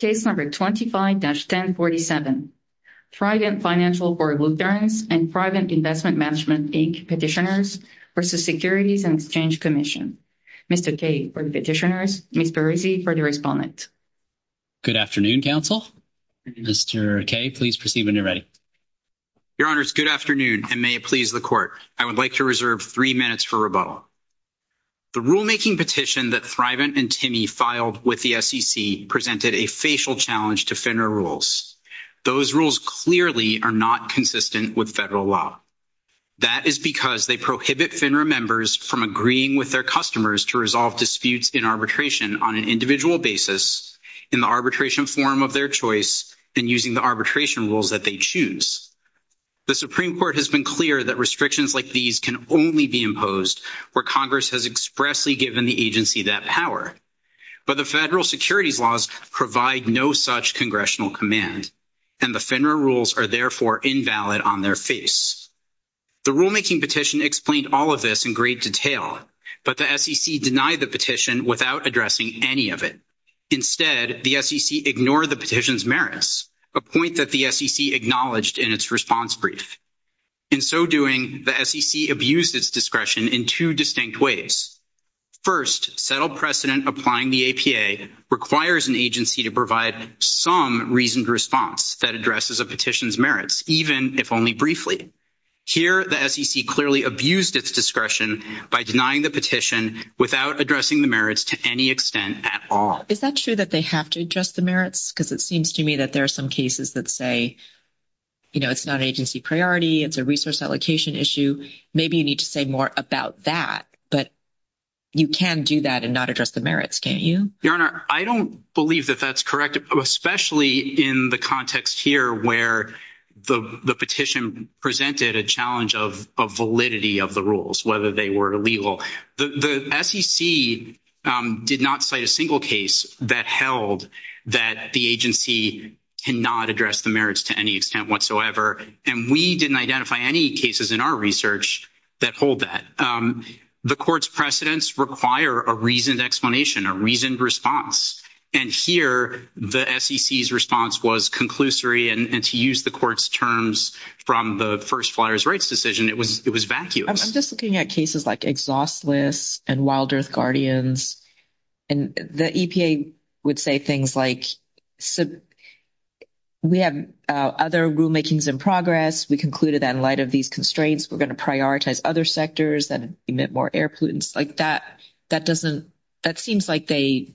Case No. 25-1047. Thrivent Financial for Lutherans and Thrivent Investment Management, Inc. Petitioners v. Securities and Exchange Commission. Mr. Kay for the petitioners, Ms. Berrizzi for the respondent. Good afternoon, counsel. Mr. Kay, please proceed when you're ready. Your Honors, good afternoon, and may it please the Court, I would like to reserve three minutes for rebuttal. The rulemaking petition that Thrivent and Timmy filed with the SEC presented a facial challenge to FINRA rules. Those rules clearly are not consistent with federal law. That is because they prohibit FINRA members from agreeing with their customers to resolve disputes in arbitration on an individual basis, in the arbitration form of their choice, and using the arbitration rules that they choose. The Supreme Court has been clear that restrictions like these can only be imposed where Congress has expressly given the agency that power. But the federal securities laws provide no such congressional command, and the FINRA rules are therefore invalid on their face. The rulemaking petition explained all of this in great detail, but the SEC denied the petition without addressing any of it. Instead, the SEC ignored the petition's merits, a point that the SEC acknowledged in its response brief. In so doing, the SEC abused its discretion in two distinct ways. First, settled precedent applying the APA requires an agency to provide some reasoned response that addresses a petition's merits, even if only briefly. Here, the SEC clearly abused its discretion by denying the petition without addressing the merits to any extent at all. Is that true that they have to address the merits? Because it seems to me that there are some cases that say, you know, it's not an agency priority, it's a resource allocation issue. Maybe you need to say more about that, but you can do that and not address the merits, can't you? Your Honor, I don't believe that that's correct, especially in the context here where the petition presented a challenge of validity of the rules, whether they were illegal. The SEC did not cite a single case that held that the agency cannot address the merits to any extent whatsoever. And we didn't identify any cases in our research that hold that. The court's precedents require a reasoned explanation, a reasoned response. And here, the SEC's response was conclusory. And to use the court's terms from the first Flyers' Rights decision, it was vacuous. I'm just looking at cases like Exhaust List and Wild Earth Guardians. And the EPA would say things like, we have other rulemakings in progress. We concluded that in light of these constraints, we're going to prioritize other sectors and emit more air pollutants. Like, that seems like they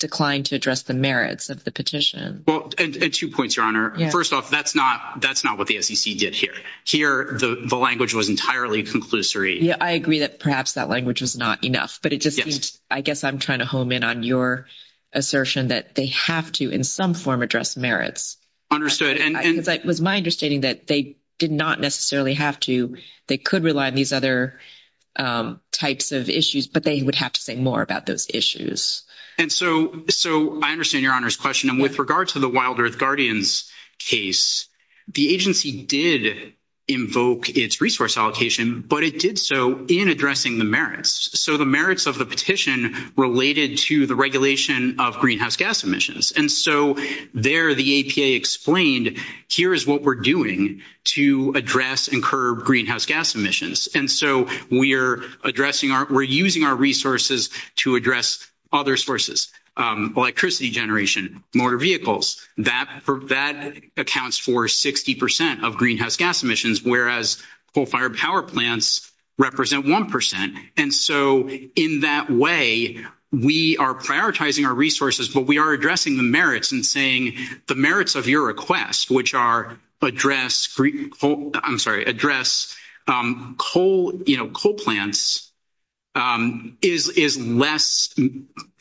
declined to address the merits of the petition. Well, and two points, Your Honor. First off, that's not what the SEC did here. Here, the language was entirely conclusory. Yeah, I agree that perhaps that language was not enough. But it just seems, I guess I'm trying to home in on your assertion that they have to in some form address merits. Because it was my understanding that they did not necessarily have to. They could rely on these other types of issues, but they would have to say more about those issues. And so I understand Your Honor's question. And with regard to the Wild Earth Guardians case, the agency did invoke its resource allocation, but it did so in addressing the merits. So the merits of the petition related to the regulation of greenhouse gas emissions. And so there the EPA explained, here is what we're doing to address and curb greenhouse gas emissions. And so we're using our resources to address other sources, electricity generation, motor vehicles. That accounts for 60 percent of greenhouse gas emissions, whereas coal-fired power plants represent 1 percent. And so in that way, we are prioritizing our resources, but we are addressing the merits and saying, the merits of your request, which are address coal plants, is less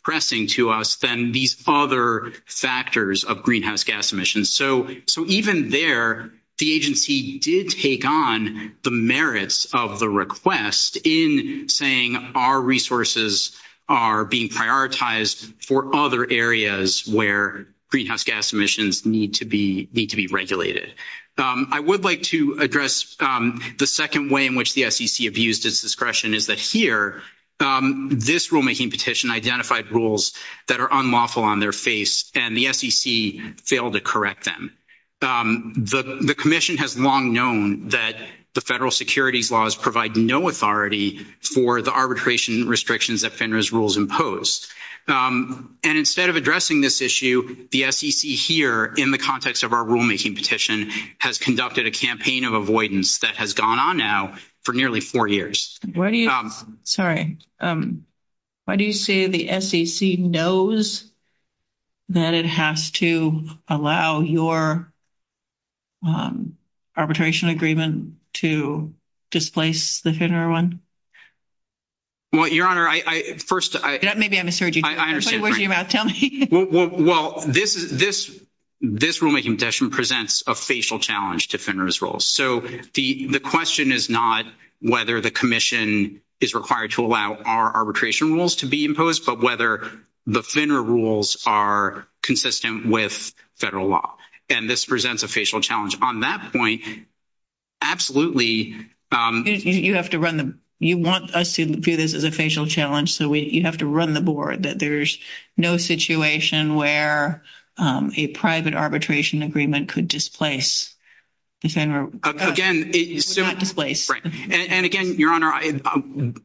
pressing to us than these other factors of greenhouse gas emissions. So even there, the agency did take on the merits of the request in saying, our resources are being prioritized for other areas where greenhouse gas emissions need to be regulated. I would like to address the second way in which the SEC abused its discretion, is that here, this rulemaking petition identified rules that are unlawful on their face and the SEC failed to correct them. The commission has long known that the federal securities laws provide no authority for the arbitration restrictions that FINRA's rules impose. And instead of addressing this issue, the SEC here, in the context of our rulemaking petition, has conducted a campaign of avoidance that has gone on now for nearly four years. Why do you say the SEC knows that it has to allow your arbitration agreement to displace the FINRA one? Well, Your Honor, I first – Maybe I misheard you. I understand. Tell me. Well, this rulemaking petition presents a facial challenge to FINRA's rules. So the question is not whether the commission is required to allow our arbitration rules to be imposed, but whether the FINRA rules are consistent with federal law. And this presents a facial challenge. On that point, absolutely – You have to run the – you want us to view this as a facial challenge, so you have to run the board, that there's no situation where a private arbitration agreement could displace the FINRA – Again – Would not displace. Right. And again, Your Honor,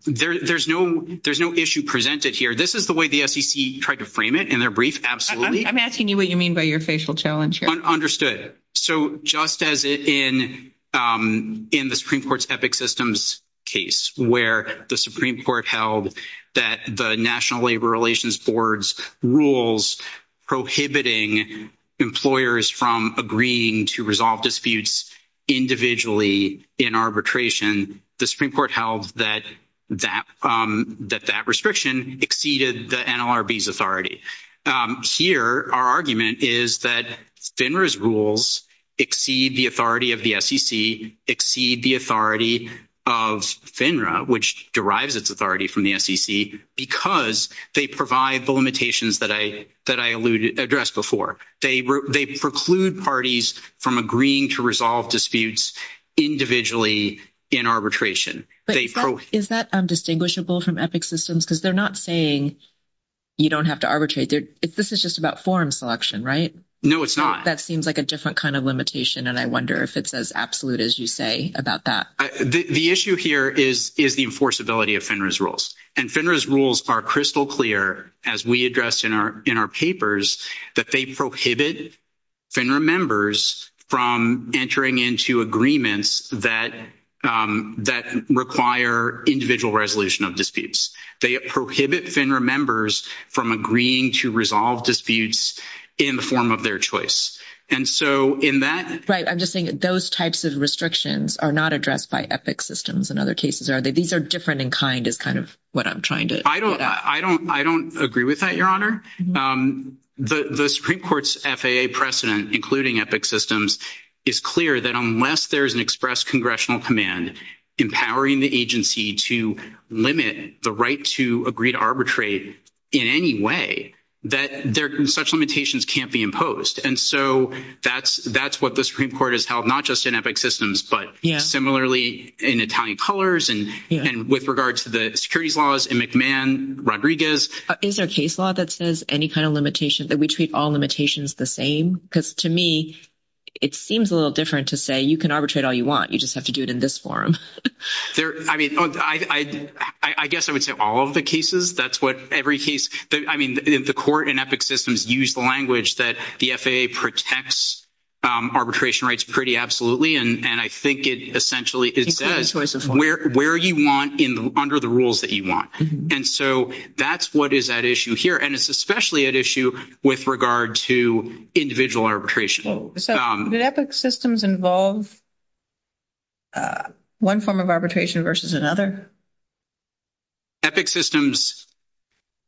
there's no issue presented here. This is the way the SEC tried to frame it in their brief. Absolutely – I'm asking you what you mean by your facial challenge here. Understood. So just as in the Supreme Court's Epic Systems case where the Supreme Court held that the National Labor Relations Board's rules prohibiting employers from agreeing to resolve disputes individually in arbitration, the Supreme Court held that that restriction exceeded the NLRB's authority. Here, our argument is that FINRA's rules exceed the authority of the SEC, exceed the authority of FINRA, which derives its authority from the SEC, because they provide the limitations that I addressed before. They preclude parties from agreeing to resolve disputes individually in arbitration. Is that distinguishable from Epic Systems? Because they're not saying you don't have to arbitrate. This is just about forum selection, right? No, it's not. That seems like a different kind of limitation, and I wonder if it's as absolute as you say about that. The issue here is the enforceability of FINRA's rules. And FINRA's rules are crystal clear, as we addressed in our papers, that they prohibit FINRA members from entering into agreements that require individual resolution of disputes. They prohibit FINRA members from agreeing to resolve disputes in the form of their choice. And so in that… Right, I'm just saying those types of restrictions are not addressed by Epic Systems in other cases, are they? These are different in kind is kind of what I'm trying to get at. I don't agree with that, Your Honor. The Supreme Court's FAA precedent, including Epic Systems, is clear that unless there is an express congressional command empowering the agency to limit the right to agree to arbitrate in any way, that such limitations can't be imposed. And so that's what the Supreme Court has held, not just in Epic Systems, but similarly in Italian colors and with regard to the securities laws in McMahon, Rodriguez. Is there a case law that says any kind of limitation, that we treat all limitations the same? Because to me, it seems a little different to say you can arbitrate all you want. You just have to do it in this form. I mean, I guess I would say all of the cases. That's what every case… I mean, the court in Epic Systems used the language that the FAA protects arbitration rights pretty absolutely. And I think it essentially, it says where you want under the rules that you want. And so that's what is at issue here. And it's especially at issue with regard to individual arbitration. So did Epic Systems involve one form of arbitration versus another? Epic Systems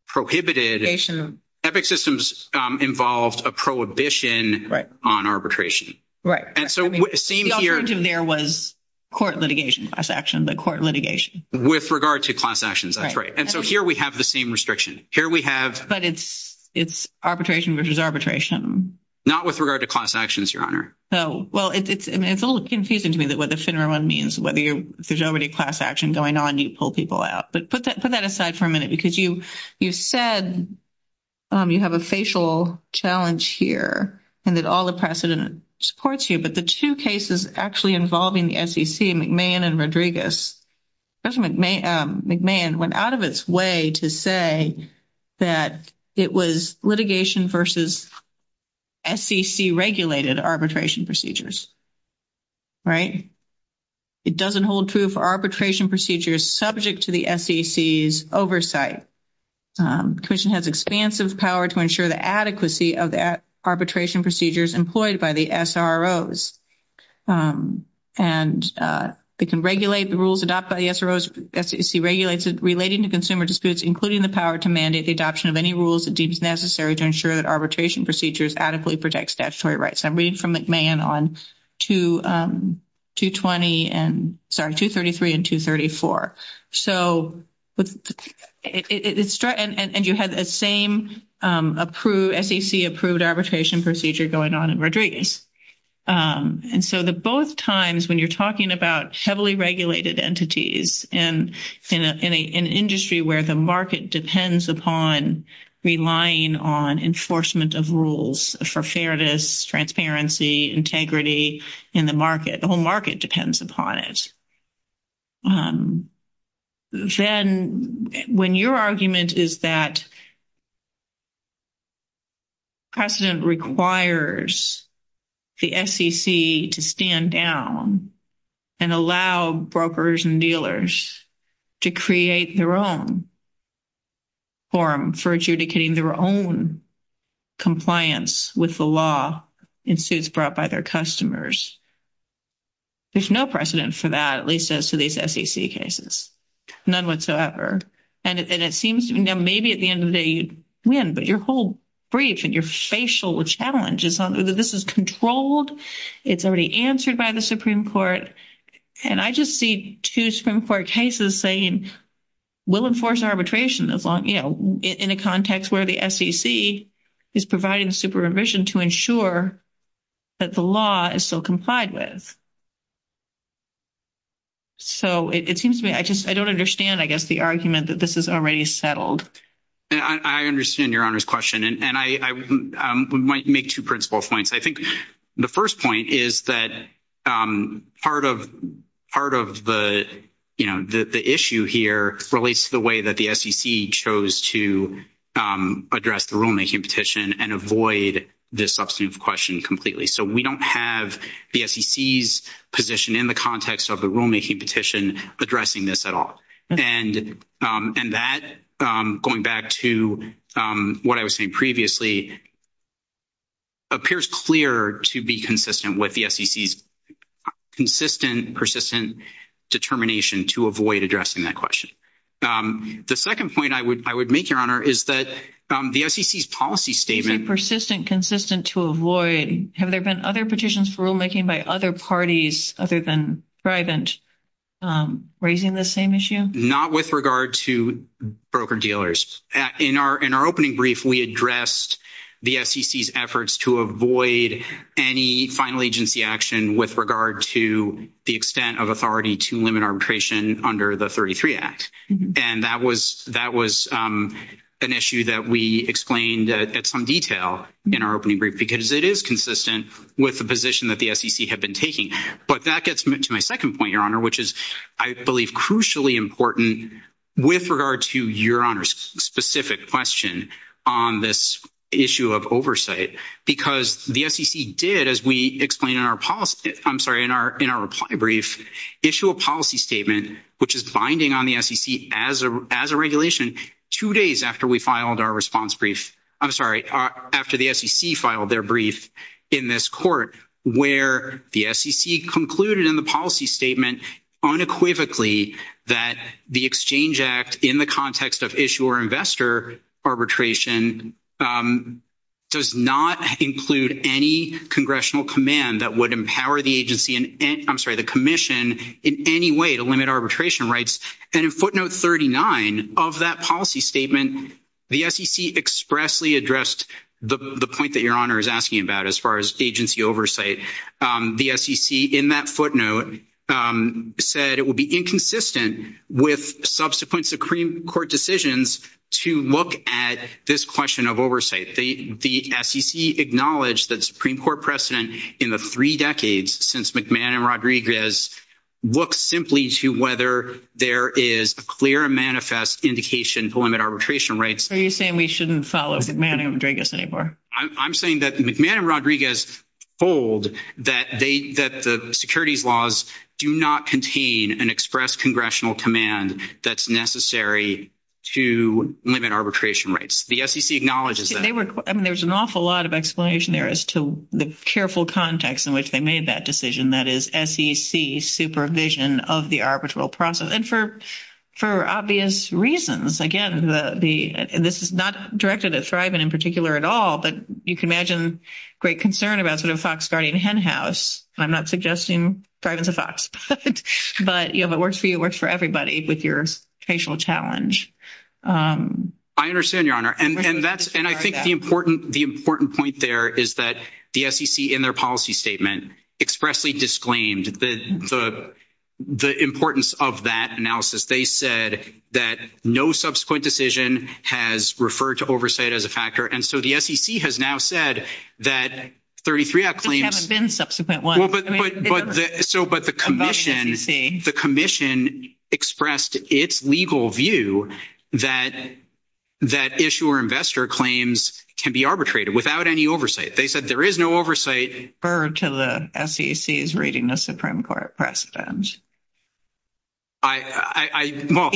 prohibited… Litigation. Epic Systems involved a prohibition on arbitration. Right. And so it seems here… The alternative there was court litigation, class action, but court litigation. With regard to class actions. That's right. And so here we have the same restriction. Here we have… But it's arbitration versus arbitration. Not with regard to class actions, Your Honor. Well, it's a little confusing to me what the FINRA one means, whether there's already class action going on, you pull people out. But put that aside for a minute because you said you have a facial challenge here and that all the precedent supports you. But the two cases actually involving the SEC, McMahon and Rodriguez, President McMahon went out of its way to say that it was litigation versus SEC-regulated arbitration procedures. Right. It doesn't hold true for arbitration procedures subject to the SEC's oversight. Commission has expansive power to ensure the adequacy of the arbitration procedures employed by the SROs. And they can regulate the rules adopted by the SROs. SEC regulates it relating to consumer disputes, including the power to mandate the adoption of any rules it deems necessary to ensure that arbitration procedures adequately protect statutory rights. I'm reading from McMahon on 233 and 234. And you had the same SEC-approved arbitration procedure going on in Rodriguez. And so the both times when you're talking about heavily regulated entities and in an industry where the market depends upon relying on enforcement of rules for fairness, transparency, integrity in the market, the whole market depends upon it. Then when your argument is that precedent requires the SEC to stand down and allow brokers and dealers to create their own form for adjudicating their own compliance with the law in suits brought by their customers, there's no precedent for that, at least as to these SEC cases. None whatsoever. And it seems maybe at the end of the day you'd win, but your whole brief and your facial challenge is this is controlled, it's already answered by the Supreme Court. And I just see two Supreme Court cases saying we'll enforce arbitration as long, you know, in a context where the SEC is providing supervision to ensure that the law is still complied with. So it seems to me I just I don't understand, I guess, the argument that this is already settled. I understand Your Honor's question. And I might make two principal points. I think the first point is that part of the issue here relates to the way that the SEC chose to address the rulemaking petition and avoid this substantive question completely. So we don't have the SEC's position in the context of the rulemaking petition addressing this at all. And that, going back to what I was saying previously, appears clear to be consistent with the SEC's consistent, persistent determination to avoid addressing that question. The second point I would make, Your Honor, is that the SEC's policy statement. Persistent, consistent to avoid. Have there been other petitions for rulemaking by other parties other than Grivant raising the same issue? Not with regard to broker-dealers. In our opening brief, we addressed the SEC's efforts to avoid any final agency action with regard to the extent of authority to limit arbitration under the 33 Act. And that was an issue that we explained at some detail in our opening brief because it is consistent with the position that the SEC had been taking. But that gets to my second point, Your Honor, which is, I believe, crucially important with regard to Your Honor's specific question on this issue of oversight. Because the SEC did, as we explained in our policy – I'm sorry, in our reply brief, issue a policy statement which is binding on the SEC as a regulation two days after we filed our response brief – I'm sorry, after the SEC filed their brief in this court, where the SEC concluded in the policy statement unequivocally that the Exchange Act, in the context of issuer-investor arbitration, does not include any congressional command that would empower the agency – I'm sorry, the Commission in any way to limit arbitration rights. And in footnote 39 of that policy statement, the SEC expressly addressed the point that Your Honor is asking about as far as agency oversight. The SEC, in that footnote, said it would be inconsistent with subsequent Supreme Court decisions to look at this question of oversight. The SEC acknowledged that the Supreme Court precedent in the three decades since McMahon and Rodriguez looks simply to whether there is a clear and manifest indication to limit arbitration rights. Are you saying we shouldn't follow McMahon and Rodriguez anymore? I'm saying that McMahon and Rodriguez hold that the securities laws do not contain an express congressional command that's necessary to limit arbitration rights. The SEC acknowledges that. I mean, there's an awful lot of explanation there as to the careful context in which they made that decision, that is, SEC supervision of the arbitral process. And for obvious reasons. Again, this is not directed at Thriven in particular at all, but you can imagine great concern about sort of fox guarding hen house. I'm not suggesting Thriven's a fox, but if it works for you, it works for everybody with your facial challenge. I understand, Your Honor. And I think the important point there is that the SEC, in their policy statement, expressly disclaimed the importance of that analysis. They said that no subsequent decision has referred to oversight as a factor. And so the SEC has now said that 33 claims have been subsequent. But so but the commission, the commission expressed its legal view that that issue or investor claims can be arbitrated without any oversight. They said there is no oversight to the SEC is reading the Supreme Court precedent. I know.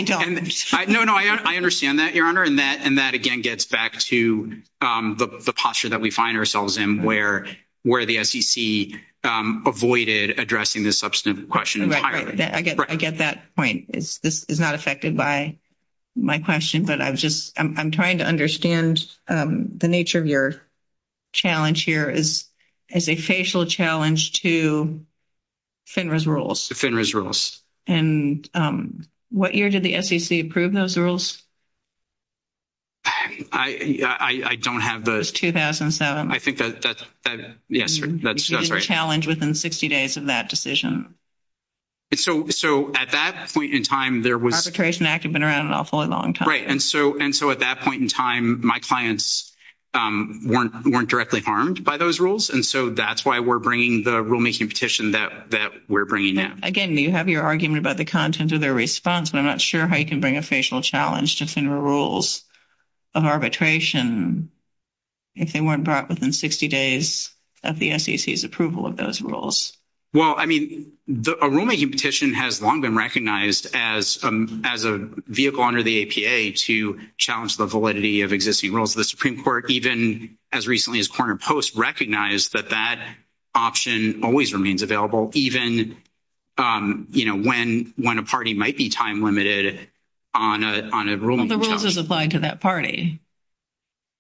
No, I understand that, Your Honor. And that and that, again, gets back to the posture that we find ourselves in where where the SEC avoided addressing this substantive question. I get that point is this is not affected by my question, but I was just I'm trying to understand the nature of your challenge here is as a facial challenge to FINRA's rules. To FINRA's rules. And what year did the SEC approve those rules? I don't have the. It was 2007. I think that yes, that's right. You didn't challenge within 60 days of that decision. So at that point in time, there was. Arbitration Act had been around an awfully long time. Right. And so and so at that point in time, my clients weren't weren't directly harmed by those rules. And so that's why we're bringing the rulemaking petition that that we're bringing now. Again, you have your argument about the content of their response, but I'm not sure how you can bring a facial challenge to FINRA rules of arbitration if they weren't brought within 60 days of the SEC's approval of those rules. Well, I mean, the rulemaking petition has long been recognized as as a vehicle under the APA to challenge the validity of existing rules. The Supreme Court, even as recently as Corner Post, recognized that that option always remains available, even, you know, when when a party might be time limited on a on a rule. The rules is applied to that party.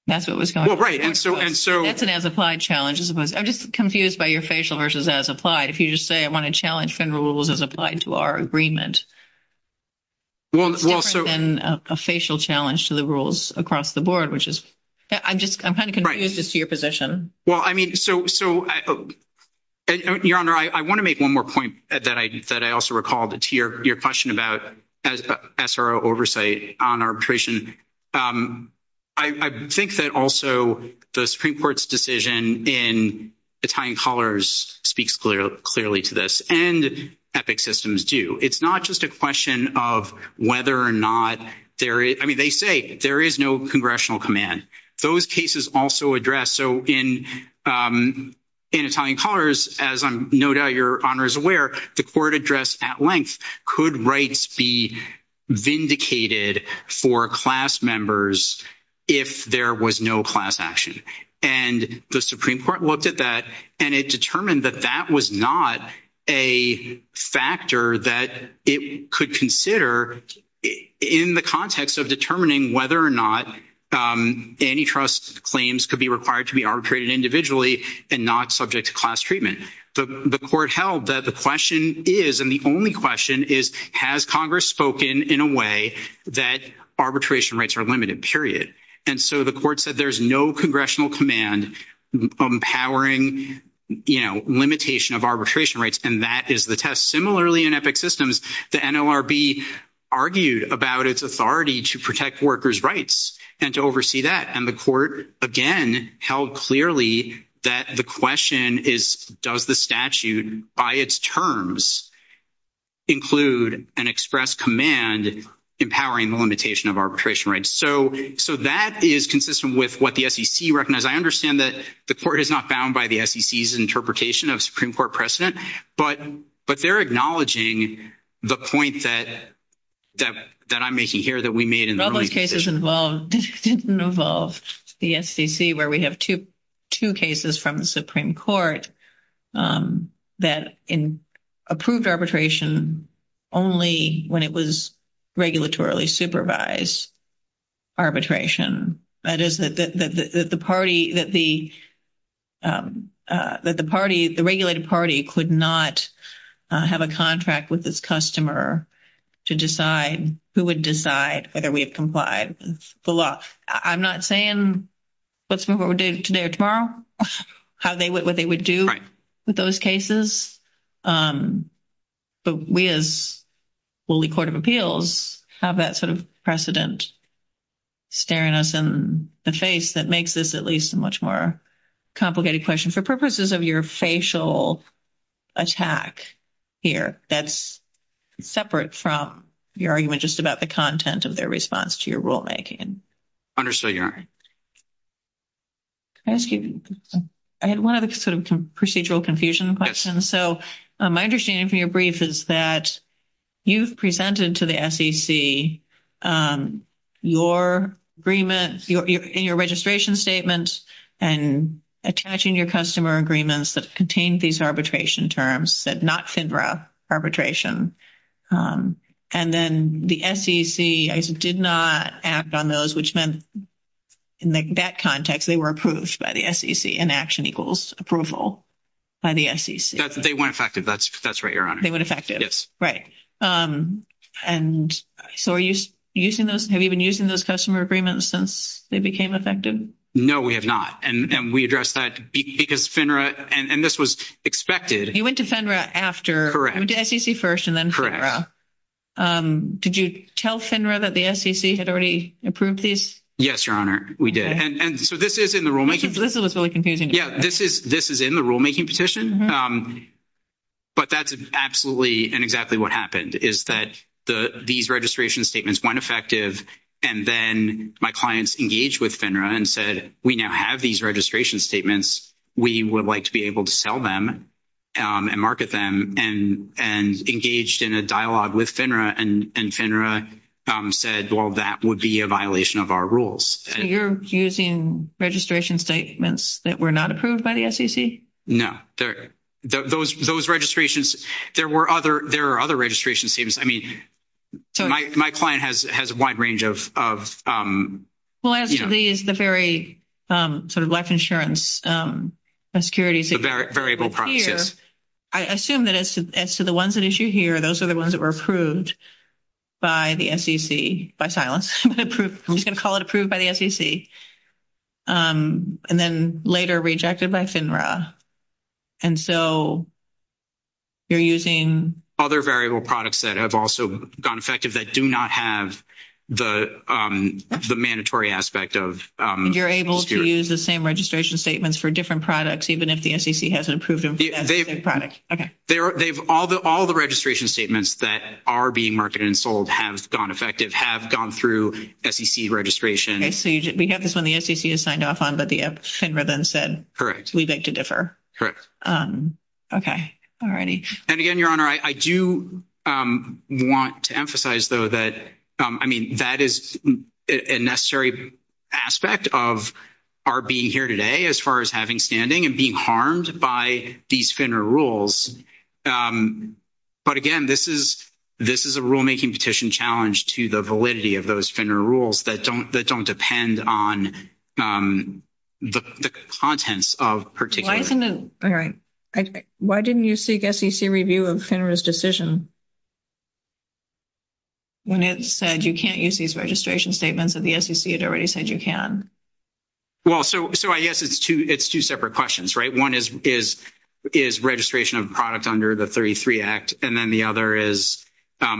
That's what was going on. Right. And so and so it's an as applied challenges. I'm just confused by your facial versus as applied. If you just say I want to challenge FINRA rules as applied to our agreement. Well, it's different than a facial challenge to the rules across the board, which is I'm just I'm kind of confused as to your position. Well, I mean, so so your honor, I want to make one more point that I that I also recall to your question about SRO oversight on arbitration. I think that also the Supreme Court's decision in Italian colors speaks clearly to this. And epic systems do. It's not just a question of whether or not there is. I mean, they say there is no congressional command. Those cases also address. So in in Italian colors, as I'm no doubt your honor is aware, the court address at length could rights be vindicated for class members if there was no class action. And the Supreme Court looked at that and it determined that that was not a factor that it could consider in the context of determining whether or not antitrust claims could be required to be arbitrated individually and not subject to class treatment. The court held that the question is and the only question is, has Congress spoken in a way that arbitration rights are limited, period? And so the court said there's no congressional command empowering, you know, limitation of arbitration rights. And that is the test. Similarly, in epic systems, the NLRB argued about its authority to protect workers' rights and to oversee that. And the court again held clearly that the question is, does the statute by its terms include an express command empowering the limitation of arbitration rights? So so that is consistent with what the SEC recognized. I understand that the court is not bound by the SEC's interpretation of Supreme Court precedent. But but they're acknowledging the point that that that I'm making here that we made in all those cases involved didn't involve the SEC where we have to two cases from the Supreme Court that in approved arbitration only when it was regulatorily supervised arbitration. That is that the party that the that the party, the regulated party could not have a contract with this customer to decide who would decide whether we have complied with the law. I'm not saying let's move over to today or tomorrow, how they what they would do with those cases. But we as Woolly Court of Appeals have that sort of precedent staring us in the face that makes this at least a much more complicated question for purposes of your facial attack here. That's separate from your argument just about the content of their response to your rulemaking. Understood. Can I ask you, I had one of the sort of procedural confusion. And so my understanding from your brief is that you've presented to the SEC your agreement in your registration statement and attaching your customer agreements that contain these arbitration terms that not FINRA arbitration. And then the SEC did not act on those, which meant in that context, they were approved by the SEC and action equals approval by the SEC. They weren't effective. That's that's right. Your honor. They went effective. Yes. Right. And so are you using those? Have you been using those customer agreements since they became effective? No, we have not. And we address that because FINRA and this was expected. You went to FINRA after SEC first and then. Correct. Did you tell FINRA that the SEC had already approved this? Yes, your honor. We did. And so this is in the rulemaking. This was really confusing. Yeah, this is this is in the rulemaking petition. But that's absolutely and exactly what happened is that the these registration statements went effective and then my clients engaged with FINRA and said, we now have these registration statements. We would like to be able to sell them and market them and and engaged in a dialogue with FINRA and FINRA said, well, that would be a violation of our rules. So you're using registration statements that were not approved by the SEC? No, they're those those registrations. There were other there are other registration seems. I mean, my my client has has a wide range of of. Well, actually, is the very sort of life insurance securities, a very variable process. I assume that as to the ones that issue here, those are the ones that were approved by the SEC by silence. I'm just going to call it approved by the SEC and then later rejected by FINRA. And so. You're using other variable products that have also gone effective that do not have the the mandatory aspect of you're able to use the same registration statements for different products, even if the SEC hasn't approved product. OK, there they've all the all the registration statements that are being marketed and sold have gone effective, have gone through SEC registration. So we have this when the SEC is signed off on. But the FINRA then said, correct, we beg to differ. Correct. OK. Alrighty. And again, Your Honor, I do want to emphasize, though, that I mean, that is a necessary aspect of our being here today. As far as having standing and being harmed by these FINRA rules. But again, this is this is a rulemaking petition challenge to the validity of those FINRA rules that don't that don't depend on the contents of particular. All right. Why didn't you seek SEC review of FINRA's decision? When it said you can't use these registration statements of the SEC, it already said you can. Well, so so I guess it's two it's two separate questions. Right. One is is is registration of product under the 33 Act. And then the other is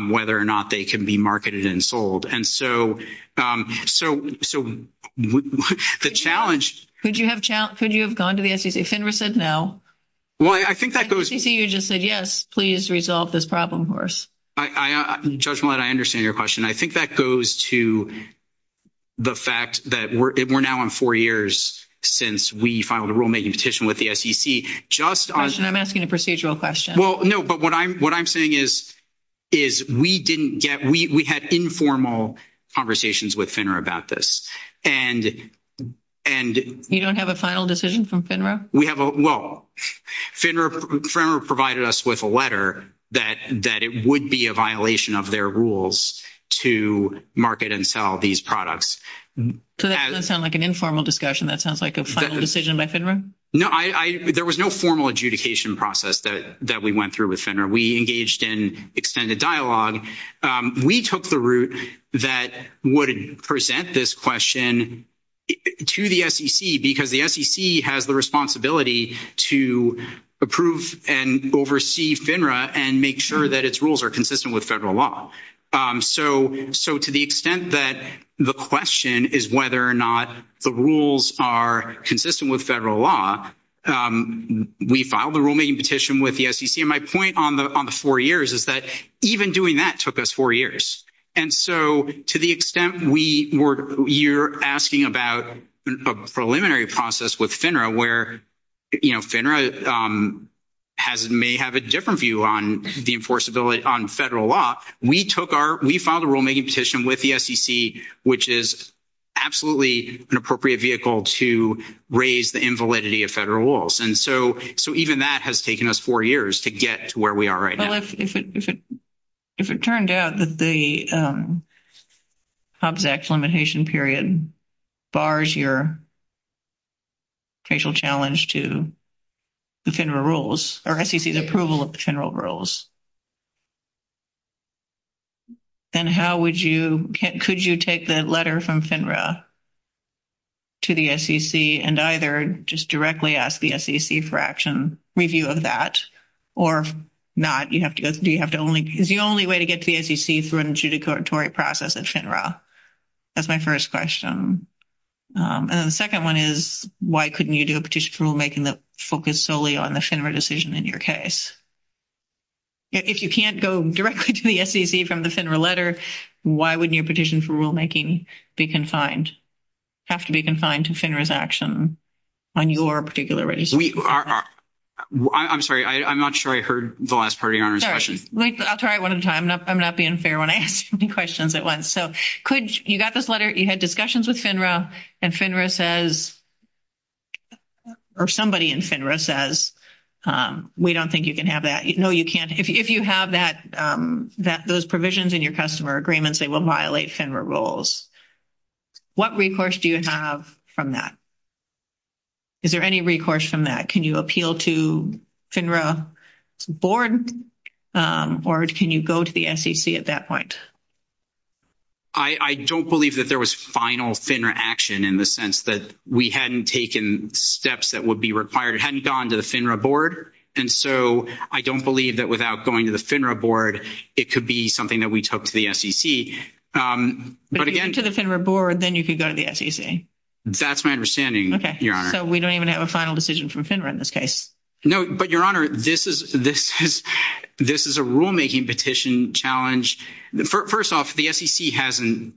whether or not they can be marketed and sold. And so so so the challenge. Could you have could you have gone to the SEC? FINRA said no. Well, I think that goes. You just said, yes, please resolve this problem. Judge Millett, I understand your question. I think that goes to the fact that we're now on four years since we filed a rulemaking petition with the SEC. Just I'm asking a procedural question. Well, no, but what I'm what I'm saying is, is we didn't get we had informal conversations with FINRA about this. And and you don't have a final decision from FINRA. We have. Well, FINRA provided us with a letter that that it would be a violation of their rules to market and sell these products. So that doesn't sound like an informal discussion. That sounds like a final decision by FINRA. No, I there was no formal adjudication process that we went through with FINRA. We engaged in extended dialogue. We took the route that would present this question to the SEC because the SEC has the responsibility to approve and oversee FINRA and make sure that its rules are consistent with federal law. So so to the extent that the question is whether or not the rules are consistent with federal law, we filed the rulemaking petition with the SEC. And my point on the on the four years is that even doing that took us four years. And so to the extent we were you're asking about a preliminary process with FINRA where FINRA has may have a different view on the enforceability on federal law. We took our we filed a rulemaking petition with the SEC, which is absolutely an appropriate vehicle to raise the invalidity of federal laws. And so so even that has taken us four years to get to where we are right now. If it if it if it turned out that the Hobbs Act limitation period bars your facial challenge to the FINRA rules or SEC's approval of the FINRA rules. Then how would you could you take the letter from FINRA to the SEC and either just directly ask the SEC for action review of that or not? You have to do you have to only is the only way to get to the SEC through a judicatory process at FINRA. That's my first question. And the second one is, why couldn't you do a petition for rulemaking that focus solely on the FINRA decision in your case? If you can't go directly to the SEC from the FINRA letter, why wouldn't your petition for rulemaking be confined have to be confined to FINRA's action on your particular register? I'm sorry. I'm not sure I heard the last part of your question. I'll try it one at a time. I'm not being fair when I ask questions at once. So could you got this letter? You had discussions with FINRA and FINRA says or somebody in FINRA says we don't think you can have that. No, you can't. If you have that that those provisions in your customer agreements, they will violate FINRA rules. What recourse do you have from that? Is there any recourse from that? Can you appeal to FINRA board or can you go to the SEC at that point? I don't believe that there was final FINRA action in the sense that we hadn't taken steps that would be required. It hadn't gone to the FINRA board. And so I don't believe that without going to the FINRA board, it could be something that we took to the SEC. But if you went to the FINRA board, then you could go to the SEC. That's my understanding, Your Honor. So we don't even have a final decision from FINRA in this case. No, but Your Honor, this is a rulemaking petition challenge. First off, the SEC hasn't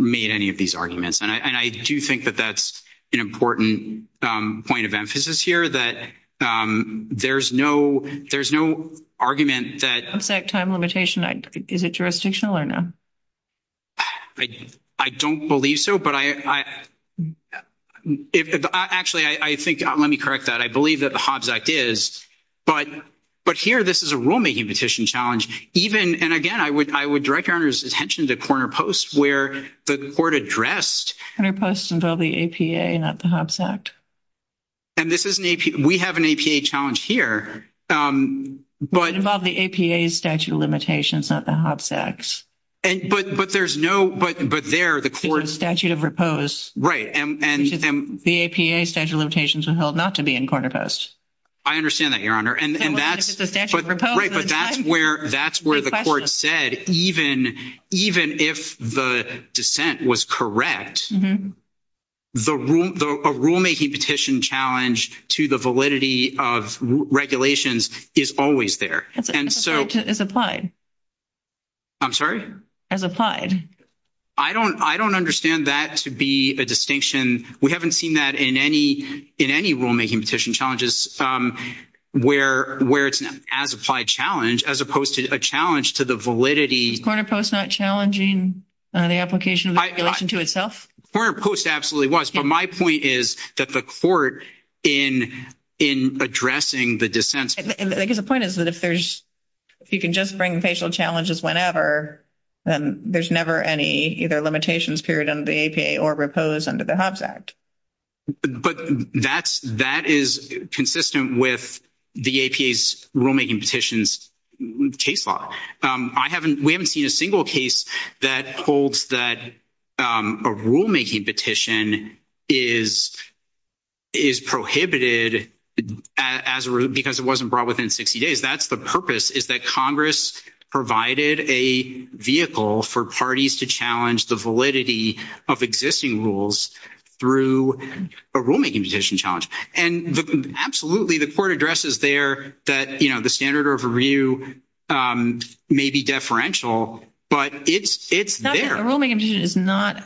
made any of these arguments. And I do think that that's an important point of emphasis here that there's no argument that. The Hobbs Act time limitation, is it jurisdictional or no? I don't believe so. But I actually, I think, let me correct that. I believe that the Hobbs Act is. But here, this is a rulemaking petition challenge. And again, I would direct Your Honor's attention to Corner Post where the court addressed. Corner Post involved the APA, not the Hobbs Act. And this is an APA. We have an APA challenge here. It involved the APA's statute of limitations, not the Hobbs Act. But there's no, but there the court. Statute of repose. Right. The APA statute of limitations were held not to be in Corner Post. I understand that, Your Honor. And that's the statute of repose. Right. But that's where that's where the court said, even even if the dissent was correct. The rule, the rulemaking petition challenge to the validity of regulations is always there. And so it's applied. I'm sorry, as applied. I don't I don't understand that to be a distinction. We haven't seen that in any in any rulemaking petition challenges where where it's as applied challenge as opposed to a challenge to the validity. Is Corner Post not challenging the application of the regulation to itself? Corner Post absolutely was. But my point is that the court in in addressing the dissent. I guess the point is that if there's if you can just bring facial challenges whenever, then there's never any either limitations period on the APA or repose under the Hobbs Act. But that's that is consistent with the APA's rulemaking petitions case law. I haven't we haven't seen a single case that holds that a rulemaking petition is. Is prohibited as because it wasn't brought within 60 days. That's the purpose is that Congress provided a vehicle for parties to challenge the validity of existing rules through a rulemaking petition challenge. And absolutely, the court addresses there that, you know, the standard overview may be deferential, but it's it's there. A rulemaking petition is not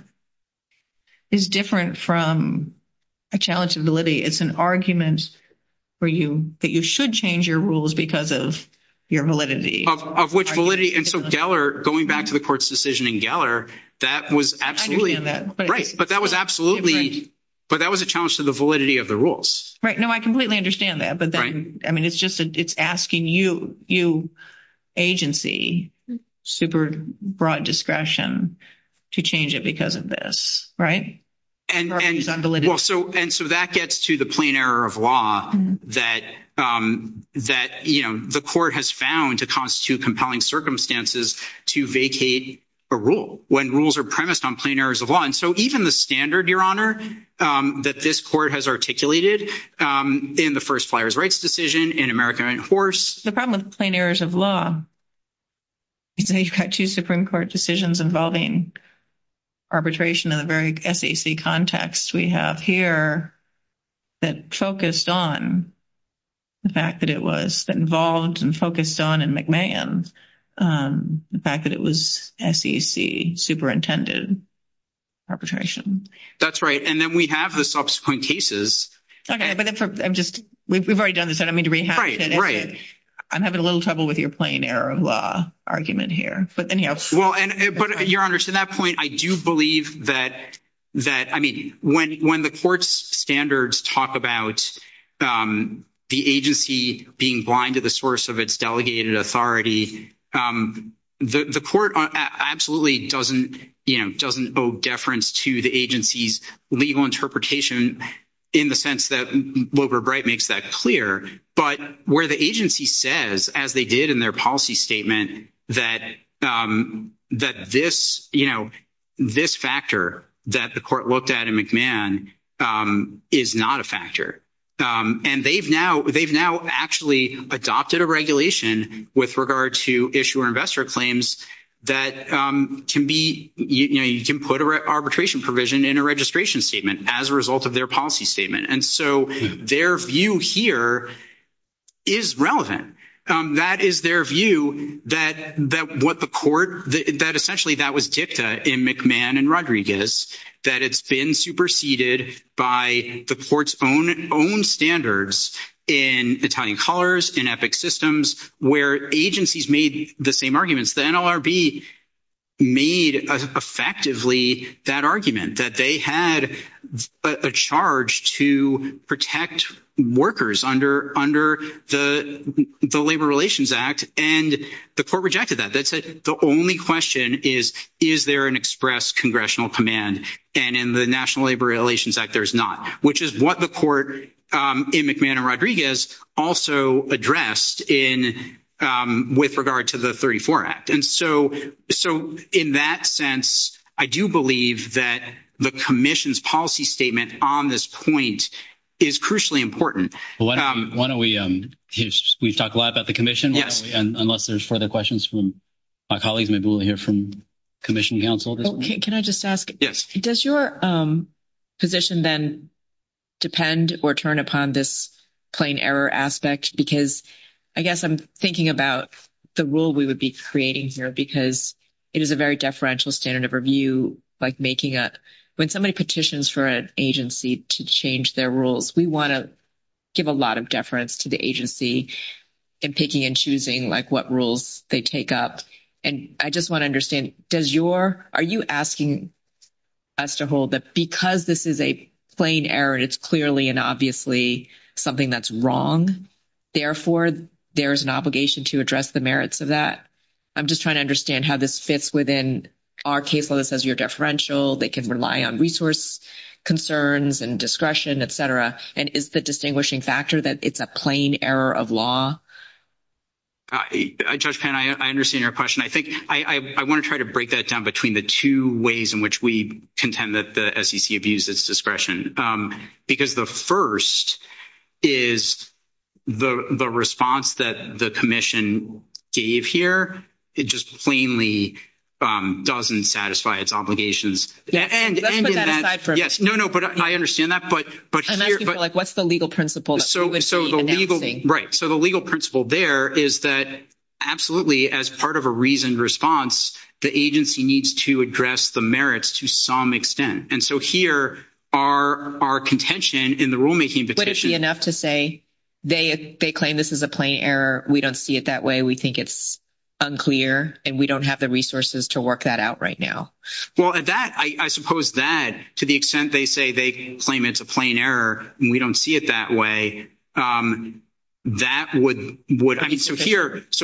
is different from a challenge to validity. It's an argument for you that you should change your rules because of your validity of which validity. And so Geller going back to the court's decision in Geller, that was absolutely right. But that was absolutely. But that was a challenge to the validity of the rules. Right. No, I completely understand that. But I mean, it's just it's asking you, you agency super broad discretion to change it because of this. Right. And so and so that gets to the plain error of law that that the court has found to constitute compelling circumstances to vacate a rule when rules are premised on plain errors of law. And so even the standard, your honor, that this court has articulated in the first flyers rights decision in America and horse, the problem with plain errors of law. So you've got two Supreme Court decisions involving arbitration in the very context we have here that focused on. The fact that it was involved and focused on and McMahon, the fact that it was SEC superintended arbitration. That's right. And then we have the subsequent cases. OK. But I'm just we've already done this. I don't mean to be right. Right. I'm having a little trouble with your plain error of law argument here. But your honor, to that point, I do believe that that I mean, when when the court's standards talk about the agency being blind to the source of its delegated authority, the court absolutely doesn't doesn't owe deference to the agency's legal interpretation in the sense that Wilbur Bright makes that clear. But where the agency says, as they did in their policy statement, that that this, you know, this factor that the court looked at in McMahon is not a factor. And they've now they've now actually adopted a regulation with regard to issuer investor claims that can be you can put arbitration provision in a registration statement as a result of their policy statement. And so their view here is relevant. That is their view that that what the court that essentially that was dicta in McMahon and Rodriguez, that it's been superseded by the court's own own standards in Italian colors, in epic systems where agencies made the same arguments. The NLRB made effectively that argument that they had a charge to protect workers under under the Labor Relations Act. And the court rejected that. That's it. The only question is, is there an express congressional command? And in the National Labor Relations Act, there's not, which is what the court in McMahon and Rodriguez also addressed in with regard to the 34 Act. And so so in that sense, I do believe that the commission's policy statement on this point is crucially important. Why don't we talk a lot about the commission? Yes. And unless there's further questions from my colleagues, maybe we'll hear from commission counsel. Can I just ask? Yes. Does your position then depend or turn upon this plain error aspect? Because I guess I'm thinking about the rule we would be creating here, because it is a very deferential standard of review, like making up when somebody petitions for an agency to change their rules. We want to give a lot of deference to the agency in picking and choosing like what rules they take up. And I just want to understand, does your are you asking us to hold that because this is a plain error and it's clearly and obviously something that's wrong? Therefore, there is an obligation to address the merits of that. I'm just trying to understand how this fits within our case. They can rely on resource concerns and discretion, et cetera. And is the distinguishing factor that it's a plain error of law? I understand your question. I think I want to try to break that down between the two ways in which we contend that the SEC abuses discretion, because the first is the response that the commission gave here. It just plainly doesn't satisfy its obligations. Let's put that aside for a minute. Yes. No, no. But I understand that. I'm asking for like what's the legal principle that we would be announcing? Right. So the legal principle there is that absolutely as part of a reasoned response, the agency needs to address the merits to some extent. And so here are our contention in the rulemaking petition. They claim this is a plain error. We don't see it that way. We think it's unclear. And we don't have the resources to work that out right now. Well, I suppose that to the extent they say they claim it's a plain error and we don't see it that way, that would. So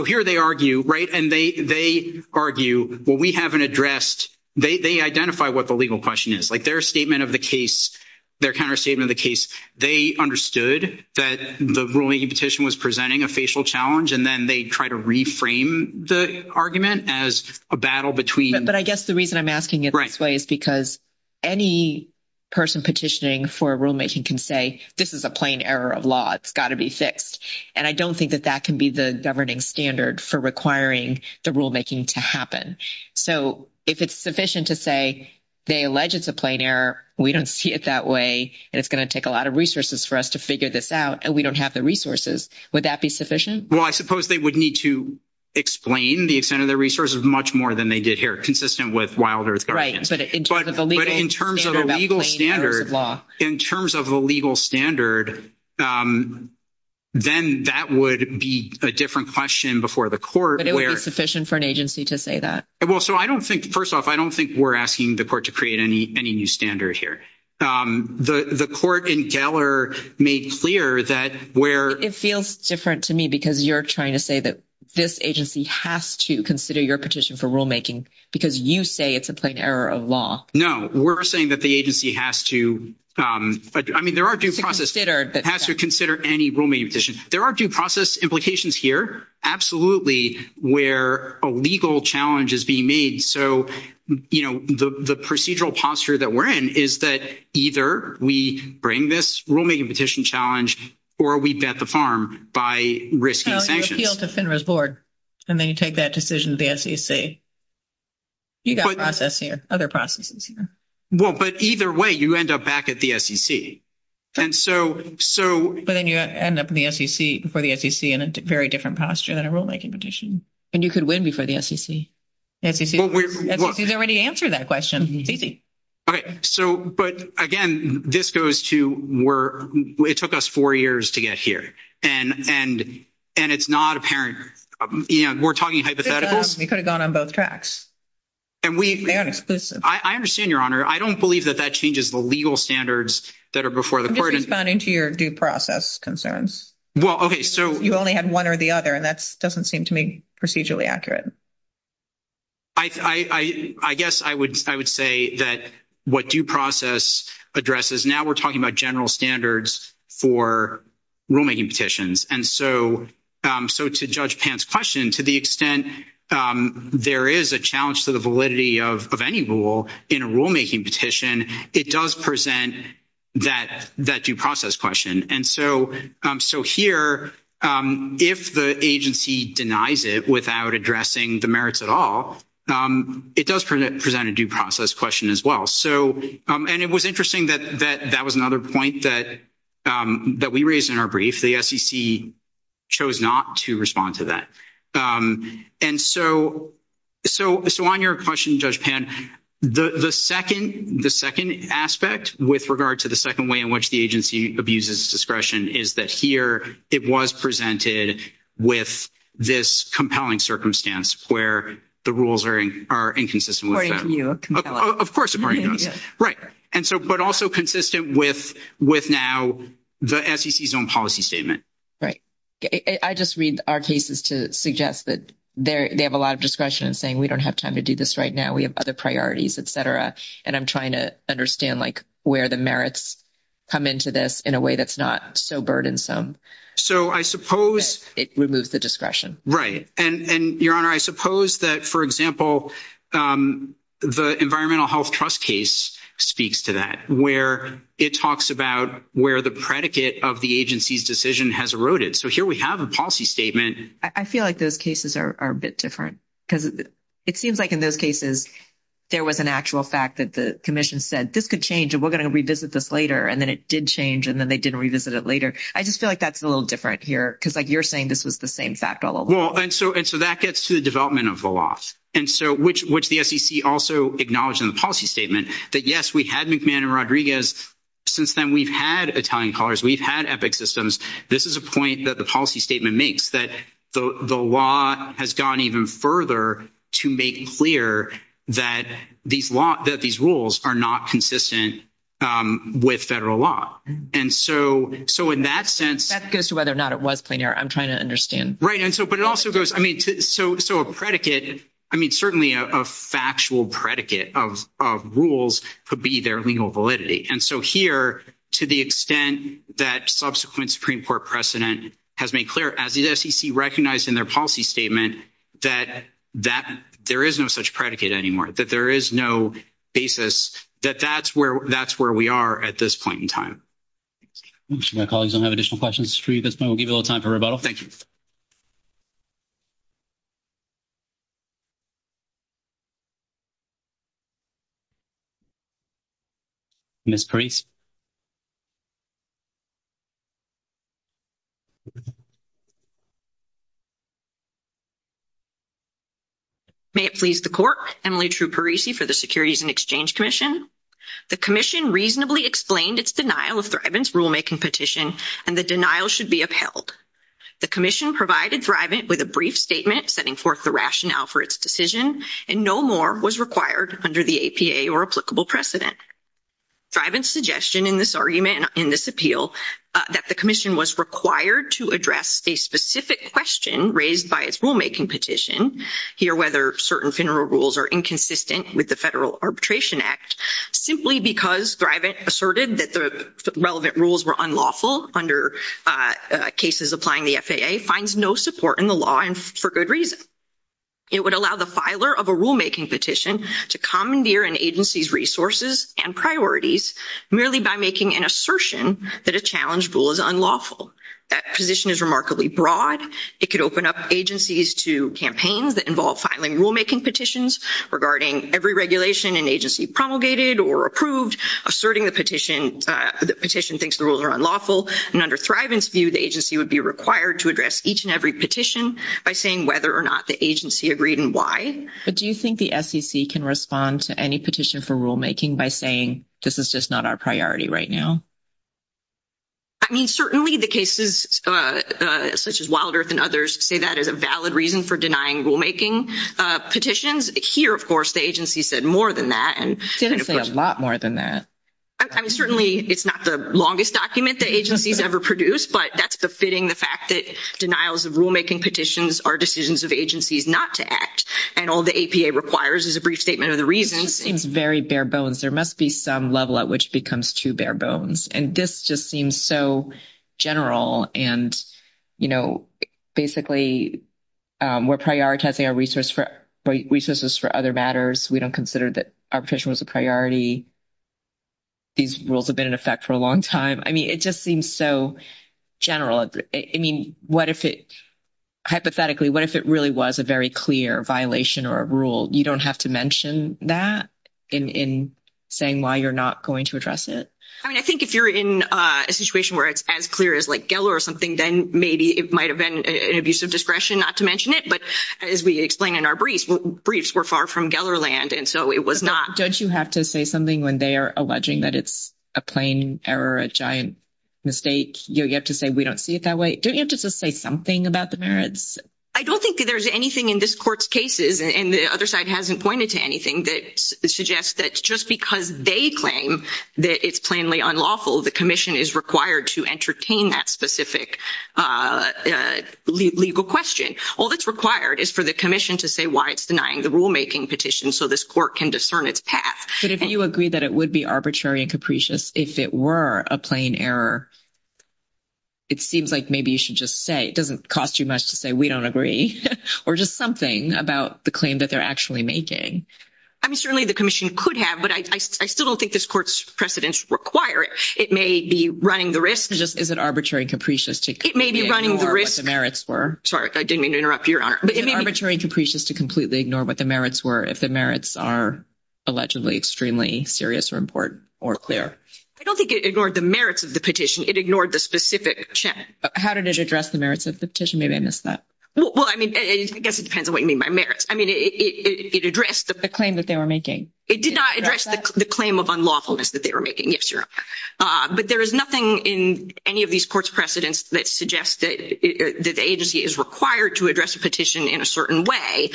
here they argue. Right. And they argue, well, we haven't addressed. They identify what the legal question is. Like their statement of the case, their counter statement of the case. They understood that the ruling petition was presenting a facial challenge, and then they try to reframe the argument as a battle between. But I guess the reason I'm asking it this way is because any person petitioning for rulemaking can say this is a plain error of law. It's got to be fixed. And I don't think that that can be the governing standard for requiring the rulemaking to happen. So if it's sufficient to say they allege it's a plain error, we don't see it that way. And it's going to take a lot of resources for us to figure this out. And we don't have the resources. Would that be sufficient? Well, I suppose they would need to explain the extent of their resources much more than they did here, consistent with Wild Earth. Right. But in terms of the legal standard, in terms of the legal standard, then that would be a different question before the court. But it would be sufficient for an agency to say that. Well, so I don't think first off, I don't think we're asking the court to create any any new standard here. The court in Geller made clear that where it feels different to me because you're trying to say that this agency has to consider your petition for rulemaking because you say it's a plain error of law. No, we're saying that the agency has to. I mean, there are due process that has to consider any rulemaking petition. There are due process implications here. Absolutely. Where a legal challenge is being made. So, you know, the procedural posture that we're in is that either we bring this rulemaking petition challenge or we bet the farm by risking sanctions. You appeal to FINRA's board and then you take that decision to the SEC. You've got process here, other processes here. Well, but either way, you end up back at the SEC. And so. So, but then you end up in the SEC before the SEC in a very different posture than a rulemaking petition. And you could win before the SEC. They're ready to answer that question. It's easy. All right. So but again, this goes to where it took us four years to get here. And and and it's not apparent. We're talking hypotheticals. We could have gone on both tracks. And we aren't exclusive. I understand, Your Honor. I don't believe that that changes the legal standards that are before the court. Responding to your due process concerns. Well, OK, so you only had one or the other, and that's doesn't seem to me procedurally accurate. I guess I would I would say that what due process addresses now we're talking about general standards for rulemaking petitions. And so. So to judge pants question, to the extent there is a challenge to the validity of any rule in a rulemaking petition, it does present that that due process question. And so. So here, if the agency denies it without addressing the merits at all, it does present a due process question as well. So and it was interesting that that that was another point that that we raised in our brief. The SEC chose not to respond to that. And so. So. So on your question, Judge Pan, the second the second aspect with regard to the second way in which the agency abuses discretion is that here it was presented with this compelling circumstance where the rules are are inconsistent. Of course. Right. And so but also consistent with with now the SEC's own policy statement. Right. I just read our cases to suggest that they have a lot of discretion in saying we don't have time to do this right now. We have other priorities, et cetera. And I'm trying to understand, like, where the merits come into this in a way that's not so burdensome. So I suppose it removes the discretion. Right. And your honor, I suppose that, for example, the Environmental Health Trust case speaks to that where it talks about where the predicate of the agency's decision has eroded. So here we have a policy statement. I feel like those cases are a bit different because it seems like in those cases there was an actual fact that the commission said this could change. And we're going to revisit this later. And then it did change. And then they didn't revisit it later. I just feel like that's a little different here because you're saying this was the same fact all along. Well, and so and so that gets to the development of the law. And so which which the SEC also acknowledged in the policy statement that, yes, we had McMahon and Rodriguez. Since then, we've had Italian callers. We've had EPIC systems. This is a point that the policy statement makes that the law has gone even further to make clear that these laws that these rules are not consistent with federal law. And so so in that sense, that goes to whether or not it was plain air. I'm trying to understand. Right. And so here, to the extent that subsequent Supreme Court precedent has made clear, as the SEC recognized in their policy statement that that there is no such predicate anymore, that there is no basis that that's where that's where we are at this point in time. My colleagues don't have additional questions for you. This will give you a little time for rebuttal. Thank you. Ms. Parise. May it please the court, Emily True Parise for the Securities and Exchange Commission. The commission reasonably explained its denial of Thrivant's rulemaking petition, and the denial should be upheld. The commission provided Thrivant with a brief statement setting forth the rationale for its decision, and no more was required under the APA or applicable precedent. Thrivant's suggestion in this argument, in this appeal, that the commission was required to address a specific question raised by its rulemaking petition, here whether certain funeral rules are inconsistent with the Federal Arbitration Act, simply because Thrivant asserted that the relevant rules were unlawful under cases applying the FAA, finds no support in the law and for good reason. It would allow the filer of a rulemaking petition to commandeer an agency's resources and priorities merely by making an assertion that a challenged rule is unlawful. That position is remarkably broad. It could open up agencies to campaigns that involve filing rulemaking petitions regarding every regulation an agency promulgated or approved, asserting the petition thinks the rules are unlawful. And under Thrivant's view, the agency would be required to address each and every petition by saying whether or not the agency agreed and why. But do you think the SEC can respond to any petition for rulemaking by saying this is just not our priority right now? I mean, certainly the cases such as Wild Earth and others say that is a valid reason for denying rulemaking petitions. Here, of course, the agency said more than that. It didn't say a lot more than that. I mean, certainly it's not the longest document the agency's ever produced, but that's befitting the fact that denials of rulemaking petitions are decisions of agencies not to act. And all the APA requires is a brief statement of the reasons. Seems very bare bones. There must be some level at which it becomes too bare bones. And this just seems so general. And, you know, basically, we're prioritizing our resources for other matters. We don't consider that our petition was a priority. These rules have been in effect for a long time. I mean, it just seems so general. I mean, what if it hypothetically what if it really was a very clear violation or a rule? You don't have to mention that in saying why you're not going to address it. I mean, I think if you're in a situation where it's as clear as like Geller or something, then maybe it might have been an abuse of discretion not to mention it. But as we explain in our briefs, briefs were far from Geller land, and so it was not. Don't you have to say something when they are alleging that it's a plain error, a giant mistake? You have to say we don't see it that way. Don't you have to say something about the merits? I don't think there's anything in this court's cases, and the other side hasn't pointed to anything that suggests that just because they claim that it's plainly unlawful, the commission is required to entertain that specific legal question. All that's required is for the commission to say why it's denying the rulemaking petition so this court can discern its path. But if you agree that it would be arbitrary and capricious if it were a plain error, it seems like maybe you should just say it doesn't cost you much to say we don't agree or just something about the claim that they're actually making. I mean, certainly the commission could have, but I still don't think this court's precedents require it. It may be running the risk. Just is it arbitrary and capricious to… It may be running the risk. …ignore what the merits were? Sorry, I didn't mean to interrupt you, Your Honor. It may be arbitrary and capricious to completely ignore what the merits were if the merits are allegedly extremely serious or important or clear. I don't think it ignored the merits of the petition. It ignored the specific check. How did it address the merits of the petition? Maybe I missed that. Well, I mean, I guess it depends on what you mean by merits. I mean, it addressed the… The claim that they were making. It did not address the claim of unlawfulness that they were making, yes, Your Honor. But there is nothing in any of these courts' precedents that suggests that the agency is required to address a petition in a certain way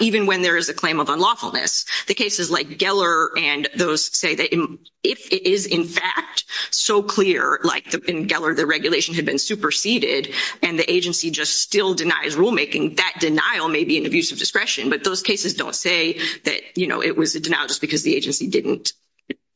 even when there is a claim of unlawfulness. The cases like Geller and those say that if it is in fact so clear like in Geller the regulation had been superseded and the agency just still denies rulemaking, that denial may be an abuse of discretion. But those cases don't say that, you know, it was a denial just because the agency didn't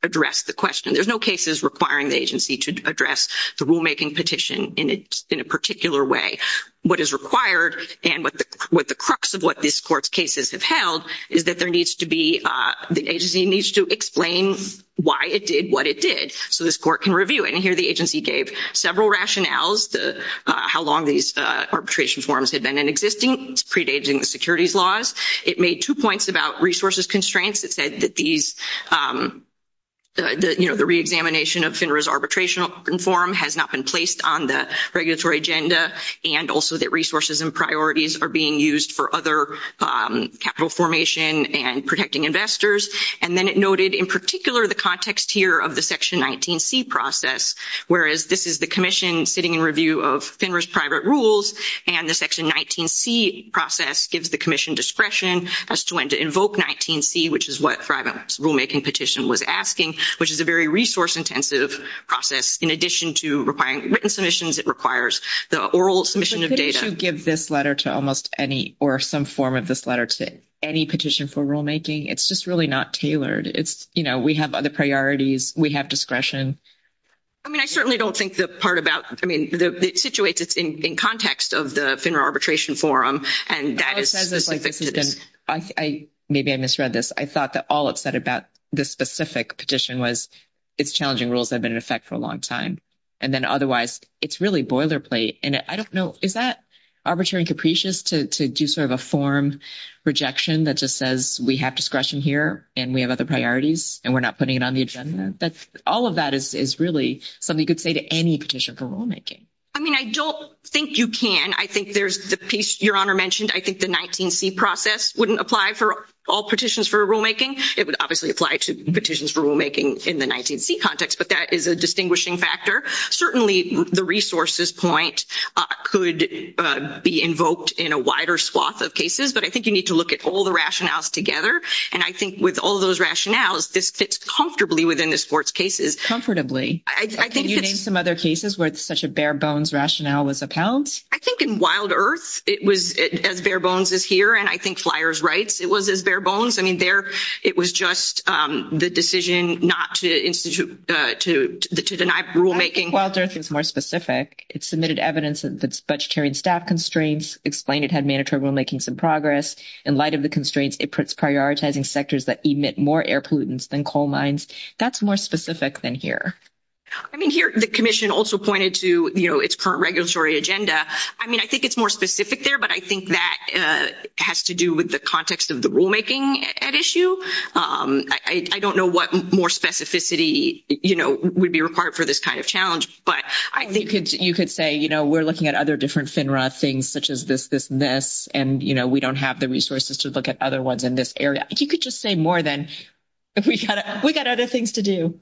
address the question. There's no cases requiring the agency to address the rulemaking petition in a particular way. What is required and what the crux of what this court's cases have held is that there needs to be… The agency needs to explain why it did what it did so this court can review it. And here the agency gave several rationales, how long these arbitration forms had been in existing, predating the securities laws. It made two points about resources constraints. It said that these, you know, the reexamination of FINRA's arbitration form has not been placed on the regulatory agenda and also that resources and priorities are being used for other capital formation and protecting investors. And then it noted in particular the context here of the Section 19C process, whereas this is the commission sitting in review of FINRA's private rules, and the Section 19C process gives the commission discretion as to when to invoke 19C, which is what FRIBON's rulemaking petition was asking, which is a very resource-intensive process. In addition to requiring written submissions, it requires the oral submission of data. But couldn't you give this letter to almost any or some form of this letter to any petition for rulemaking? It's just really not tailored. It's, you know, we have other priorities. We have discretion. I mean, I certainly don't think the part about, I mean, it situates it in context of the FINRA arbitration forum, and that is specific to this. Maybe I misread this. I thought that all it said about this specific petition was it's challenging rules that have been in effect for a long time. And then otherwise, it's really boilerplate. And I don't know, is that arbitrary and capricious to do sort of a form rejection that just says we have discretion here and we have other priorities and we're not putting it on the agenda? All of that is really something you could say to any petition for rulemaking. I mean, I don't think you can. I think there's the piece Your Honor mentioned. I think the 19C process wouldn't apply for all petitions for rulemaking. It would obviously apply to petitions for rulemaking in the 19C context, but that is a distinguishing factor. Certainly, the resources point could be invoked in a wider swath of cases, but I think you need to look at all the rationales together. And I think with all those rationales, this fits comfortably within the sports cases. Comfortably. Can you name some other cases where such a bare bones rationale was upheld? I think in Wild Earth, it was as bare bones as here, and I think Flyers Rights, it was as bare bones. I mean, it was just the decision not to deny rulemaking. Wild Earth is more specific. It submitted evidence of its budgetary and staff constraints, explained it had mandatory rulemaking some progress. In light of the constraints, it puts prioritizing sectors that emit more air pollutants than coal mines. That's more specific than here. I mean, here the commission also pointed to, you know, its current regulatory agenda. I mean, I think it's more specific there, but I think that has to do with the context of the rulemaking at issue. I don't know what more specificity, you know, would be required for this kind of challenge. You could say, you know, we're looking at other different FINRA things such as this, this, and this, and, you know, we don't have the resources to look at other ones in this area. You could just say more than we got other things to do.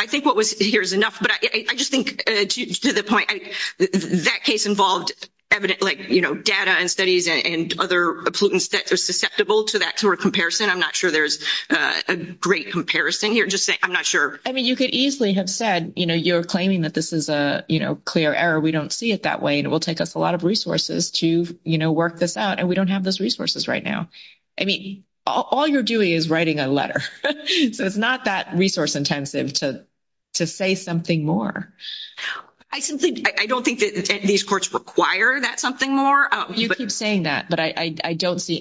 I think what was here is enough, but I just think to the point, that case involved, you know, data and studies and other pollutants that are susceptible to that sort of comparison. I'm not sure there's a great comparison here. I'm just saying, I'm not sure. I mean, you could easily have said, you know, you're claiming that this is a, you know, clear error. We don't see it that way, and it will take us a lot of resources to, you know, work this out, and we don't have those resources right now. I mean, all you're doing is writing a letter. So it's not that resource intensive to say something more. I simply, I don't think that these courts require that something more. You keep saying that, but I don't see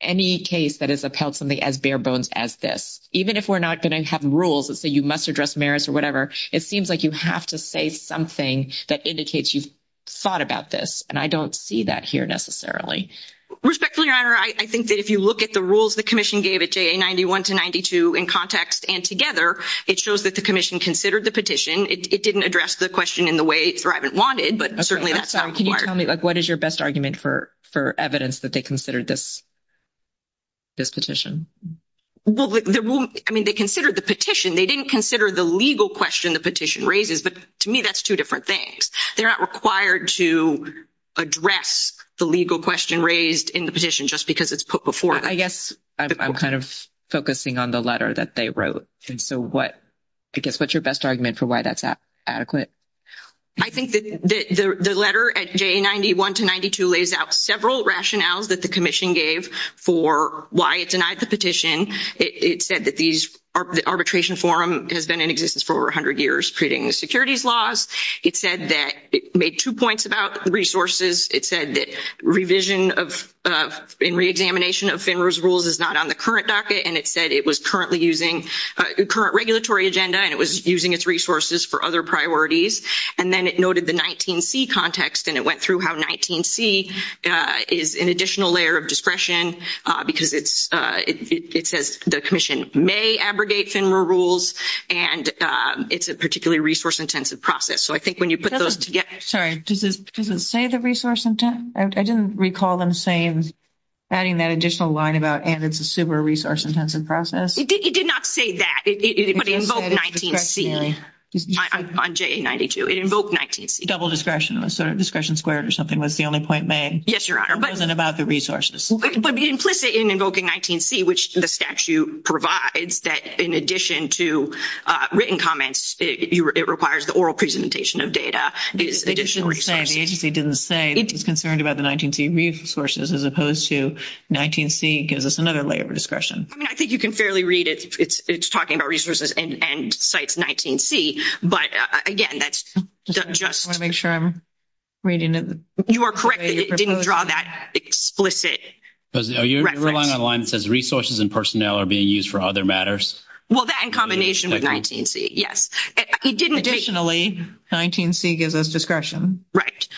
any case that has upheld something as bare bones as this. Even if we're not going to have rules that say you must address merits or whatever, it seems like you have to say something that indicates you've thought about this, and I don't see that here necessarily. Respectfully, Your Honor, I think that if you look at the rules the commission gave at JA91 to 92 in context and together, it shows that the commission considered the petition. It didn't address the question in the way Thrivant wanted, but certainly that's not required. Can you tell me, like, what is your best argument for evidence that they considered this petition? Well, I mean, they considered the petition. They didn't consider the legal question the petition raises, but to me that's two different things. They're not required to address the legal question raised in the petition just because it's put before them. I guess I'm kind of focusing on the letter that they wrote, and so I guess what's your best argument for why that's adequate? I think that the letter at JA91 to 92 lays out several rationales that the commission gave for why it denied the petition. It said that the arbitration forum has been in existence for over 100 years, creating the securities laws. It said that it made two points about resources. It said that revision and reexamination of FINRA's rules is not on the current docket, and it said it was currently using the current regulatory agenda and it was using its resources for other priorities. And then it noted the 19C context, and it went through how 19C is an additional layer of discretion because it says the commission may abrogate FINRA rules, and it's a particularly resource-intensive process. So I think when you put those together— Sorry. Does it say the resource? I didn't recall them saying, adding that additional line about, and it's a super resource-intensive process. It did not say that. But it invoked 19C on JA92. It invoked 19C. Double discretion. Discretion squared or something was the only point made. Yes, Your Honor. It wasn't about the resources. But implicit in invoking 19C, which the statute provides, that in addition to written comments, it requires the oral presentation of data, additional resources. The agency didn't say it was concerned about the 19C resources as opposed to 19C gives us another layer of discretion. I think you can fairly read it. It's talking about resources and CITES 19C. But, again, that's just— I want to make sure I'm reading it. You are correct. It didn't draw that explicit reference. Are you relying on a line that says resources and personnel are being used for other matters? Well, that in combination with 19C, yes. Additionally, 19C gives us discretion. Right.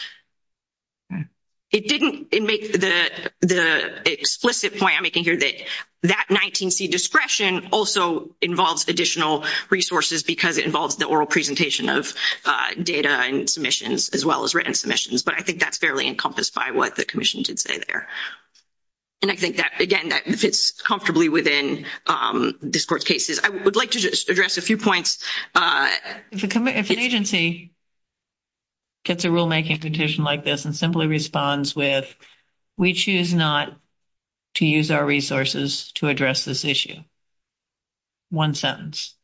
It didn't make the explicit point I'm making here that that 19C discretion also involves additional resources because it involves the oral presentation of data and submissions as well as written submissions. But I think that's fairly encompassed by what the commission did say there. And I think that, again, that fits comfortably within this Court's cases. I would like to just address a few points. If an agency gets a rulemaking petition like this and simply responds with, we choose not to use our resources to address this issue, one sentence,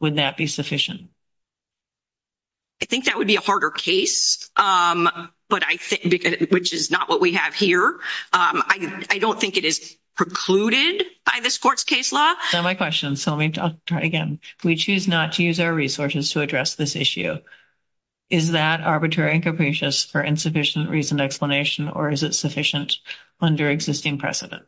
would that be sufficient? I think that would be a harder case, which is not what we have here. I don't think it is precluded by this Court's case law. That's not my question, so let me try again. We choose not to use our resources to address this issue. Is that arbitrary and capricious for insufficient reason and explanation, or is it sufficient under existing precedent?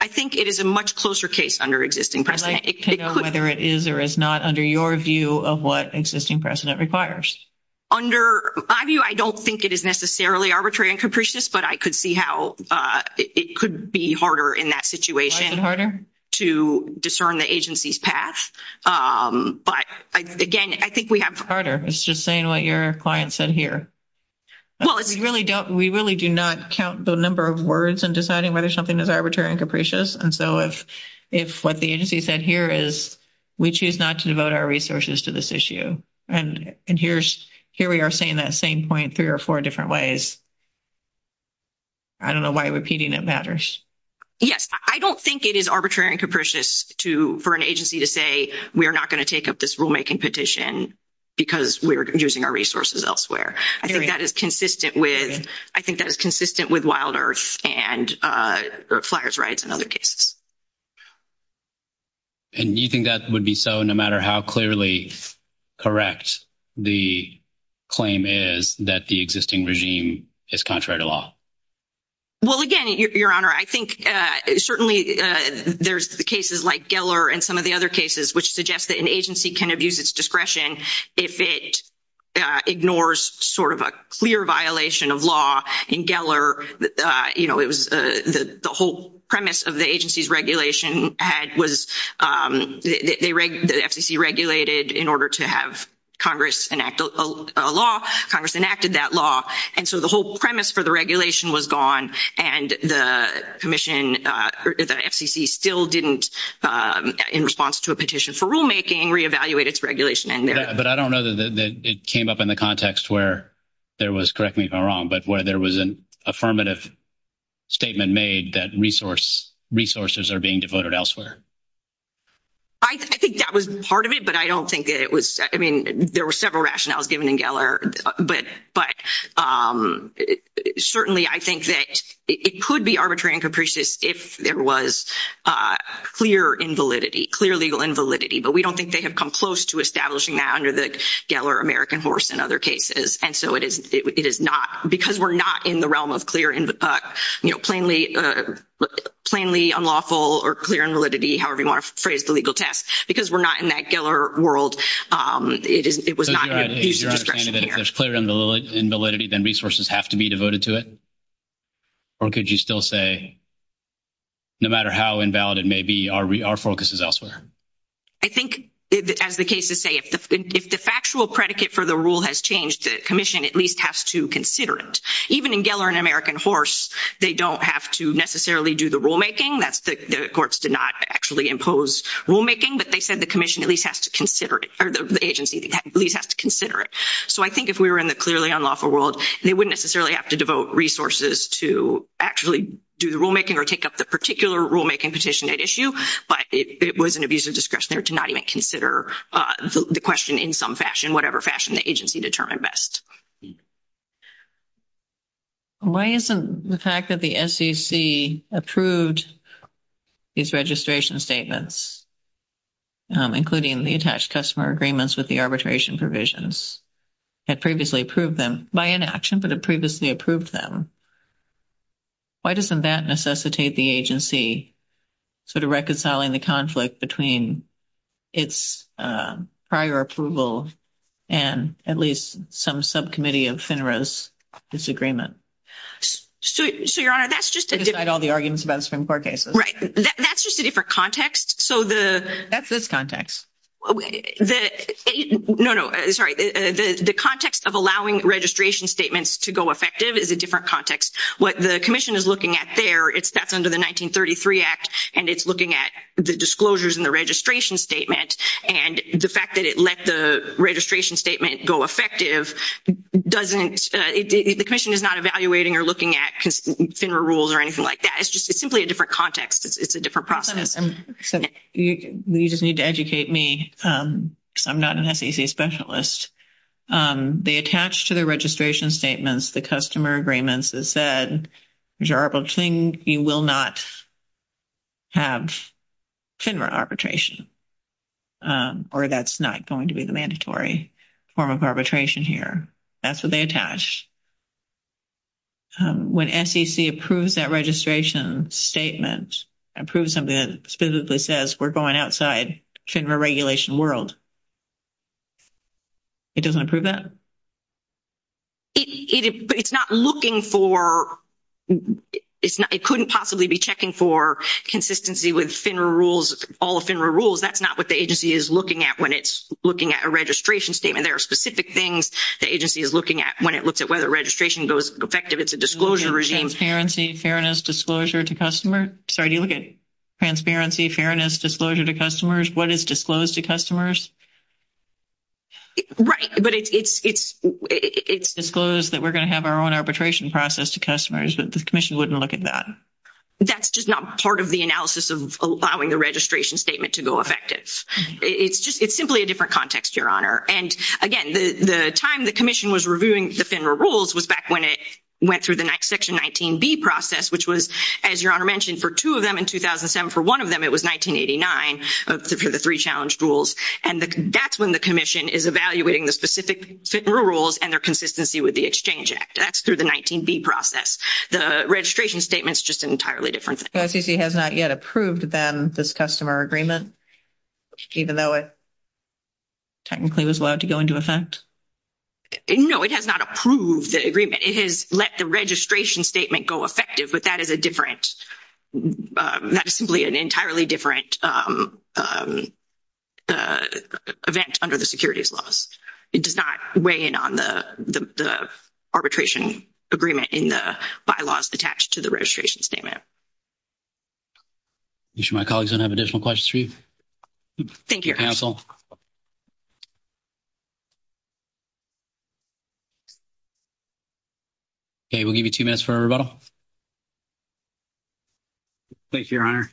I think it is a much closer case under existing precedent. I'd like to know whether it is or is not under your view of what existing precedent requires. Under my view, I don't think it is necessarily arbitrary and capricious, but I could see how it could be harder in that situation to discern the agency's path. But, again, I think we have... It's harder. It's just saying what your client said here. We really do not count the number of words in deciding whether something is arbitrary and capricious, and so if what the agency said here is, we choose not to devote our resources to this issue, and here we are saying that same point three or four different ways, I don't know why repeating it matters. Yes. I don't think it is arbitrary and capricious for an agency to say, we are not going to take up this rulemaking petition because we are using our resources elsewhere. I think that is consistent with Wild Earth and flyers rights in other cases. And you think that would be so no matter how clearly correct the claim is that the existing regime is contrary to law? Well, again, Your Honor, I think certainly there's the cases like Geller and some of the other cases which suggest that an agency can abuse its discretion if it ignores sort of a clear violation of law. In Geller, you know, it was the whole premise of the agency's regulation was the FCC regulated in order to have Congress enact a law. Congress enacted that law, and so the whole premise for the regulation was gone, and the FCC still didn't, in response to a petition for rulemaking, reevaluate its regulation. But I don't know that it came up in the context where there was, correct me if I'm wrong, but where there was an affirmative statement made that resources are being devoted elsewhere. I think that was part of it, but I don't think it was. I mean, there were several rationales given in Geller, but certainly I think that it could be arbitrary and capricious if there was clear legal invalidity, but we don't think they have come close to establishing that under the Geller American horse in other cases. And so it is not, because we're not in the realm of plainly unlawful or clear invalidity, however you want to phrase the legal test, because we're not in that Geller world. So is your understanding that if there's clear invalidity, then resources have to be devoted to it? Or could you still say, no matter how invalid it may be, our focus is elsewhere? I think, as the cases say, if the factual predicate for the rule has changed, the commission at least has to consider it. Even in Geller and American horse, they don't have to necessarily do the rulemaking. The courts did not actually impose rulemaking, but they said the agency at least has to consider it. So I think if we were in the clearly unlawful world, they wouldn't necessarily have to devote resources to actually do the rulemaking or take up the particular rulemaking petition at issue, but it was an abuse of discretion there to not even consider the question in some fashion, whatever fashion the agency determined best. Why isn't the fact that the SEC approved these registration statements including the attached customer agreements with the arbitration provisions, had previously approved them by inaction, but had previously approved them. Why doesn't that necessitate the agency sort of reconciling the conflict between its prior approval and at least some subcommittee of FINRA's disagreement? So, Your Honor, that's just a different... Besides all the arguments about Supreme Court cases. Right. That's just a different context. That's this context. No, no. Sorry. The context of allowing registration statements to go effective is a different context. What the Commission is looking at there, that's under the 1933 Act, and it's looking at the disclosures in the registration statement, and the fact that it let the registration statement go effective doesn't... The Commission is not evaluating or looking at FINRA rules or anything like that. It's simply a different context. It's a different process. You just need to educate me because I'm not an SEC specialist. They attach to the registration statements, the customer agreements, that said, you will not have FINRA arbitration, or that's not going to be the mandatory form of arbitration here. That's what they attach. When SEC approves that registration statement, approves something that specifically says, we're going outside FINRA regulation world, it doesn't approve that? It's not looking for... It couldn't possibly be checking for consistency with FINRA rules, all of FINRA rules. That's not what the agency is looking at when it's looking at a registration statement. There are specific things the agency is looking at when it looks at whether registration goes effective. It's a disclosure regime. Transparency, fairness, disclosure to customer? Sorry, do you look at transparency, fairness, disclosure to customers? What is disclosed to customers? Right, but it's... It's disclosed that we're going to have our own arbitration process to customers, but the Commission wouldn't look at that. That's just not part of the analysis of allowing the registration statement to go effective. It's simply a different context, Your Honor. And again, the time the Commission was reviewing the FINRA rules was back when it went through the section 19B process, which was, as Your Honor mentioned, for two of them in 2007. For one of them, it was 1989, for the three challenged rules. And that's when the Commission is evaluating the specific FINRA rules and their consistency with the Exchange Act. That's through the 19B process. The registration statement is just an entirely different thing. The SEC has not yet approved, then, this customer agreement, even though it technically was allowed to go into effect. No, it has not approved the agreement. It has let the registration statement go effective, but that is a different... That is simply an entirely different event under the securities laws. It does not weigh in on the arbitration agreement in the bylaws attached to the registration statement. You sure my colleagues don't have additional questions for you? Thank you, Your Honor. Okay, we'll give you two minutes for a rebuttal. Thank you, Your Honor.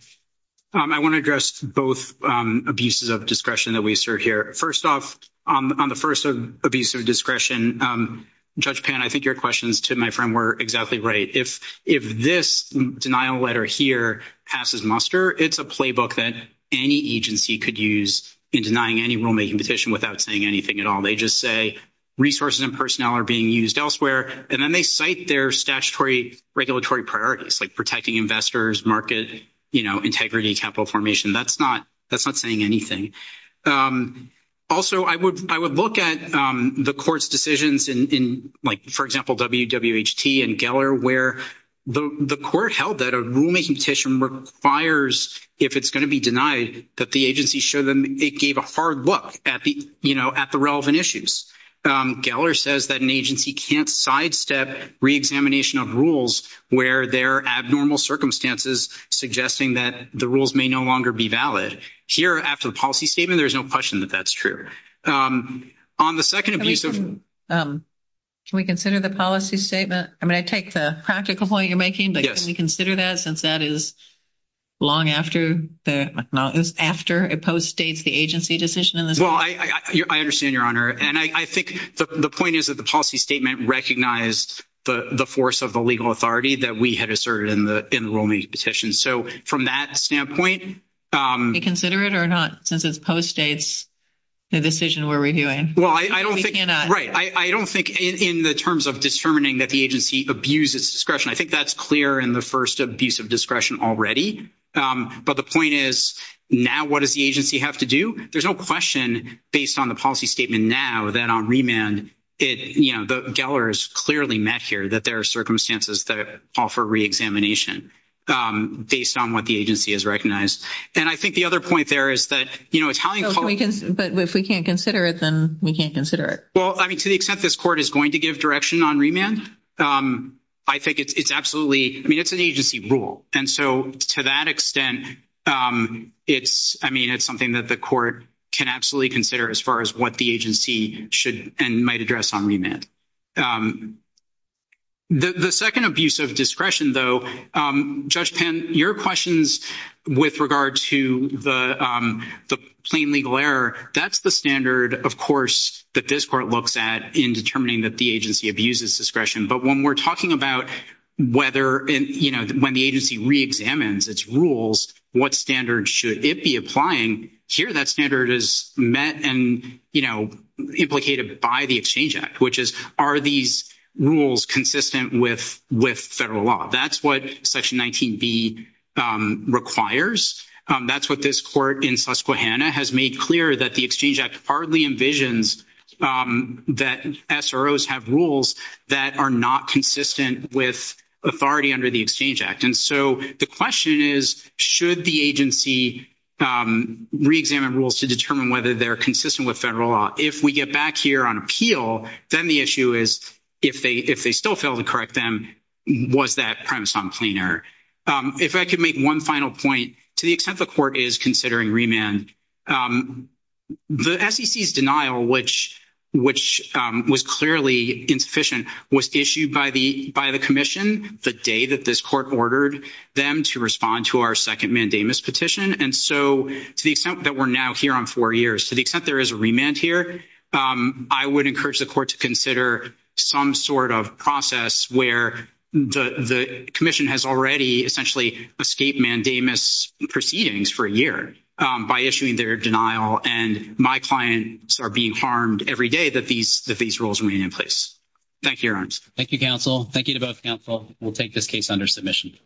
I want to address both abuses of discretion that we serve here. First off, on the first abuse of discretion, Judge Pan, I think your questions to my friend were exactly right. If this denial letter here passes muster, it's a playbook that any agency could use in denying any rulemaking petition without saying anything at all. They just say, resources and personnel are being used elsewhere, and then they cite their statutory regulatory priorities, like protecting investors, market integrity, capital formation. That's not saying anything. Also, I would look at the court's decisions in, for example, WWHT and Geller, where the court held that a rulemaking petition requires, if it's going to be denied, that the agency show them it gave a hard look at the relevant issues. Geller says that an agency can't sidestep reexamination of rules where there are abnormal circumstances suggesting that the rules may no longer be valid. Here, after the policy statement, there's no question that that's true. On the second abuse of... Can we consider the policy statement? I mean, I take the practical point you're making, but can we consider that since that is long after it post-states the agency decision in this case? Well, I understand, Your Honor. And I think the point is that the policy statement recognized the force of the legal authority that we had asserted in the rulemaking petition. So from that standpoint... Can we consider it or not since it post-states the decision we're reviewing? Well, I don't think... Right. I don't think in the terms of determining that the agency abuses discretion, I think that's clear in the first abuse of discretion already. But the point is, now what does the agency have to do? There's no question based on the policy statement now that on remand, you know, Geller has clearly met here that there are circumstances that offer re-examination based on what the agency has recognized. And I think the other point there is that, you know, Italian... But if we can't consider it, then we can't consider it. Well, I mean, to the extent this court is going to give direction on remand, I think it's absolutely... I mean, it's an agency rule. And so to that extent, it's... I mean, it's something that the court can absolutely consider as far as what the agency should and might address on remand. The second abuse of discretion, though, Judge Penn, your questions with regard to the plain legal error, that's the standard, of course, that this court looks at in determining that the agency abuses discretion. But when we're talking about whether, you know, when the agency re-examines its rules, what standard should it be applying, here that standard is met and, you know, implicated by the Exchange Act, which is, are these rules consistent with federal law? That's what Section 19B requires. That's what this court in Susquehanna has made clear, that the Exchange Act hardly envisions that SROs have rules that are not consistent with authority under the Exchange Act. And so the question is, should the agency re-examine rules to determine whether they're consistent with federal law? If we get back here on appeal, then the issue is, if they still fail to correct them, was that premise on plain error? If I could make one final point, to the extent the court is considering remand, the SEC's denial, which was clearly insufficient, was issued by the commission the day that this court ordered them to respond to our second mandamus petition. And so to the extent that we're now here on four years, to the extent there is a remand here, I would encourage the court to consider some sort of process where the commission has already essentially escaped mandamus proceedings for a year by issuing their denial and my clients are being harmed every day that these rules remain in place. Thank you, Your Honors. Thank you, counsel. Thank you to both counsel. We'll take this case under submission.